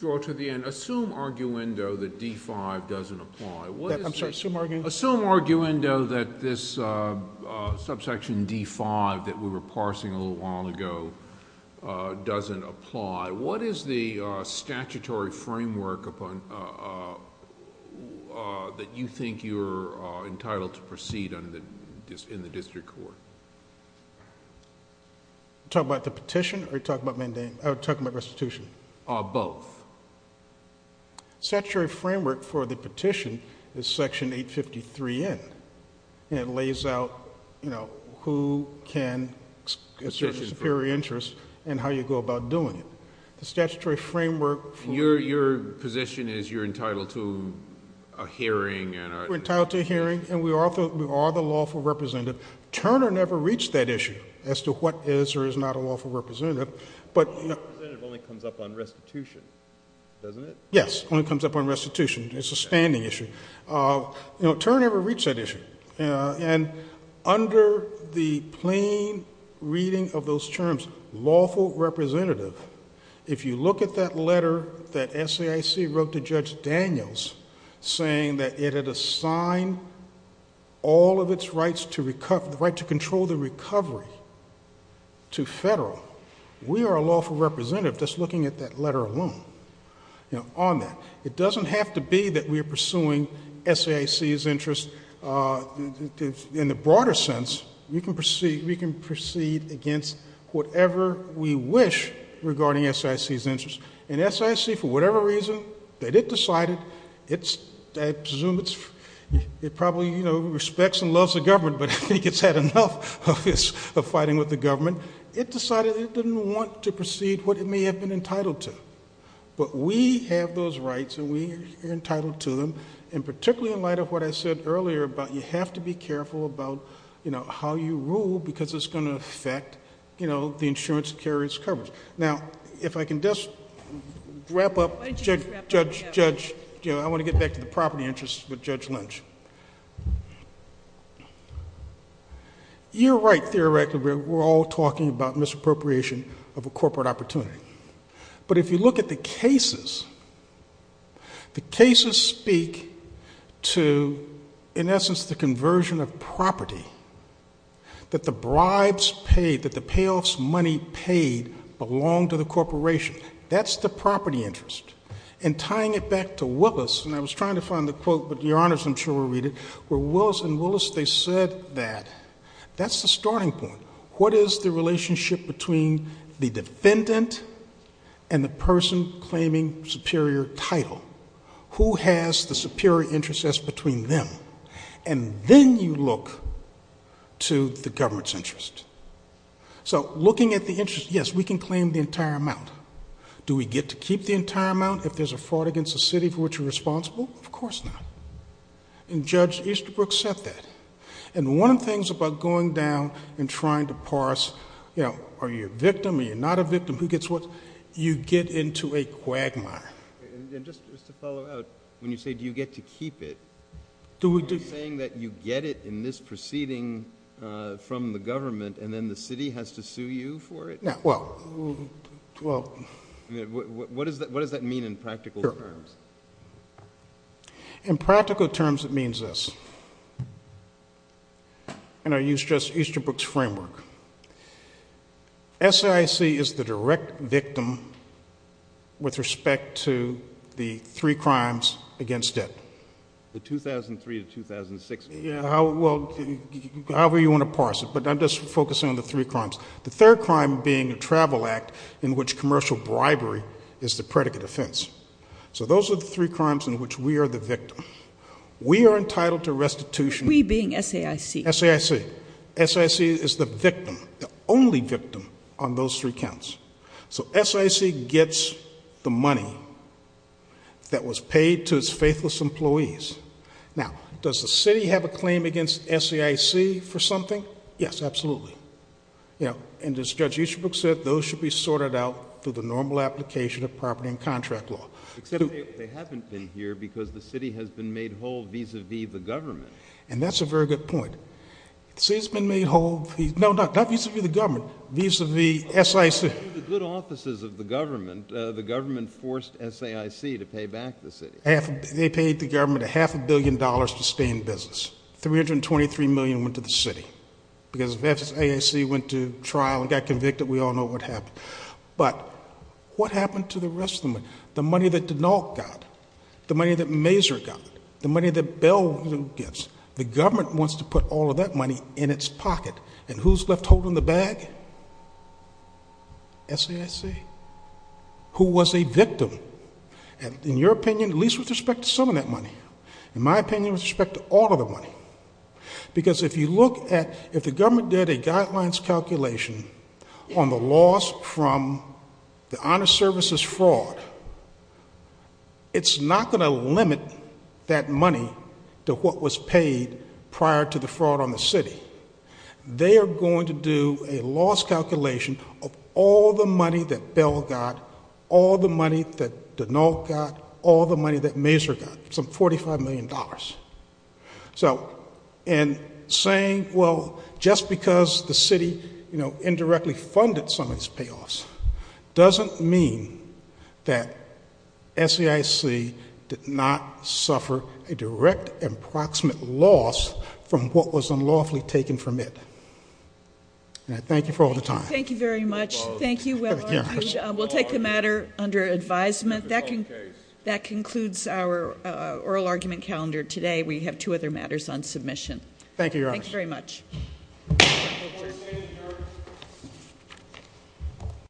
go to the end. Assume, arguendo, that D-5 doesn't apply. I'm sorry, assume, arguendo? Assume, arguendo, that this subsection D-5 that we were parsing a little while ago doesn't apply. What is the statutory framework upon, that you think you're entitled to proceed in the district court? Are you talking about the petition, or are you talking about restitution? Both. Statutory framework for the petition is section 853N. It lays out, you know, who can assert superior interest and how you go about doing it. The statutory framework for... Your position is you're entitled to a hearing and a... We're entitled to a hearing, and we are the lawful representative. Turner never reached that issue as to what is or is not a lawful representative, but... Lawful representative only comes up on restitution, doesn't it? Yes, only comes up on restitution. It's a standing issue. You know, Turner never reached that issue, and under the plain reading of those terms, lawful representative, if you look at that letter that SAIC wrote to Judge Daniels, saying that it had assigned all of its rights to control the recovery to federal, we are a lawful representative just looking at that letter alone, you know, on that. It doesn't have to be that we're pursuing SAIC's interest. In the broader sense, we can proceed against whatever we wish regarding SAIC's interest. And SAIC, for whatever reason, that it decided, I presume it probably, you know, respects and loves the government, but I think it's had enough of fighting with the government. It decided it didn't want to proceed what it may have been entitled to. But we have those rights, and we are entitled to them. And particularly in light of what I said earlier about you have to be careful about, you know, how you rule because it's going to affect, you know, the insurance carrier's coverage. Now, if I can just wrap up, Judge, you know, I want to get back to the property interests with Judge Lynch. You're right, theoretically, we're all talking about misappropriation of a corporate opportunity. But if you look at the cases, the cases speak to, in essence, the conversion of property that the bribes paid, that the payouts money paid belong to the corporation. That's the property interest. And tying it back to Willis, and I was trying to find the quote, but Your Honor, some children will read it, where Willis and Willis, they said that, that's the starting point. What is the relationship between the defendant and the person claiming superior title? Who has the superior interest that's between them? And then you look to the government's interest. So looking at the interest, yes, we can claim the entire amount. Do we get to keep the entire amount if there's a fraud against the city for which you're responsible? Of course not. And Judge Easterbrook said that. And one of the things about going down and trying to parse, you know, are you a victim? Are you not a victim? Who gets what? You get into a quagmire. And just to follow up, when you say, do you get to keep it, do you mean that you get it in this proceeding from the government, and then the city has to sue you for it? Yeah, well, well. What does that mean in practical terms? In practical terms, it means this. And I use Judge Easterbrook's framework. SAIC is the direct victim with respect to the three crimes against it. The 2003 to 2006. Yeah, well, however you want to parse it. But I'm just focusing on the three crimes. The third crime being the Travel Act, in which commercial bribery is the predicate offense. So those are the three crimes in which we are the victims. We are entitled to restitution. We being SAIC. SAIC. SAIC is the victim. The only victim on those three counts. So SAIC gets the money that was paid to its faithless employees. Now, does the city have a claim against SAIC for something? Yes, absolutely. Yeah, and as Judge Easterbrook said, those should be sorted out through the normal application of property and contract law. Except they haven't been here because the city has been made whole vis-a-vis the government. And that's a very good point. It's been made whole. No, not vis-a-vis the government. Vis-a-vis the SAIC. The good offices of the government. The government forced SAIC to pay back the city. They paid the government a half a billion dollars to stay in business. $323 million went to the city. Because SAIC went to trial and got convicted. We all know what happened. But what happened to the rest of the money? The money that DeNalt got. The money that Mazur got. The money that Beall gets. The government wants to put all of that money in its pocket. And who's left holding the bag? SAIC. Who was a victim? And in your opinion, at least with respect to some of that money. In my opinion, with respect to all of the money. Because if you look at, if the government did a guidelines calculation on the loss from the honor services fraud, it's not going to limit that money to what was paid prior to the fraud on the city. They are going to do a loss calculation of all the money that Beall got, all the money that DeNalt got, all the money that Mazur got. Some $45 million. So, and saying, well, just because the city, you know, indirectly funded some of these payoffs doesn't mean that SAIC did not suffer a direct approximate loss from what was unlawfully taken from it. And I thank you for all the time. Thank you very much. Thank you. We'll take the matter under advisement. That concludes our oral argument calendar today. We have two other matters on submission. Thank you, Your Honor. Thanks very much.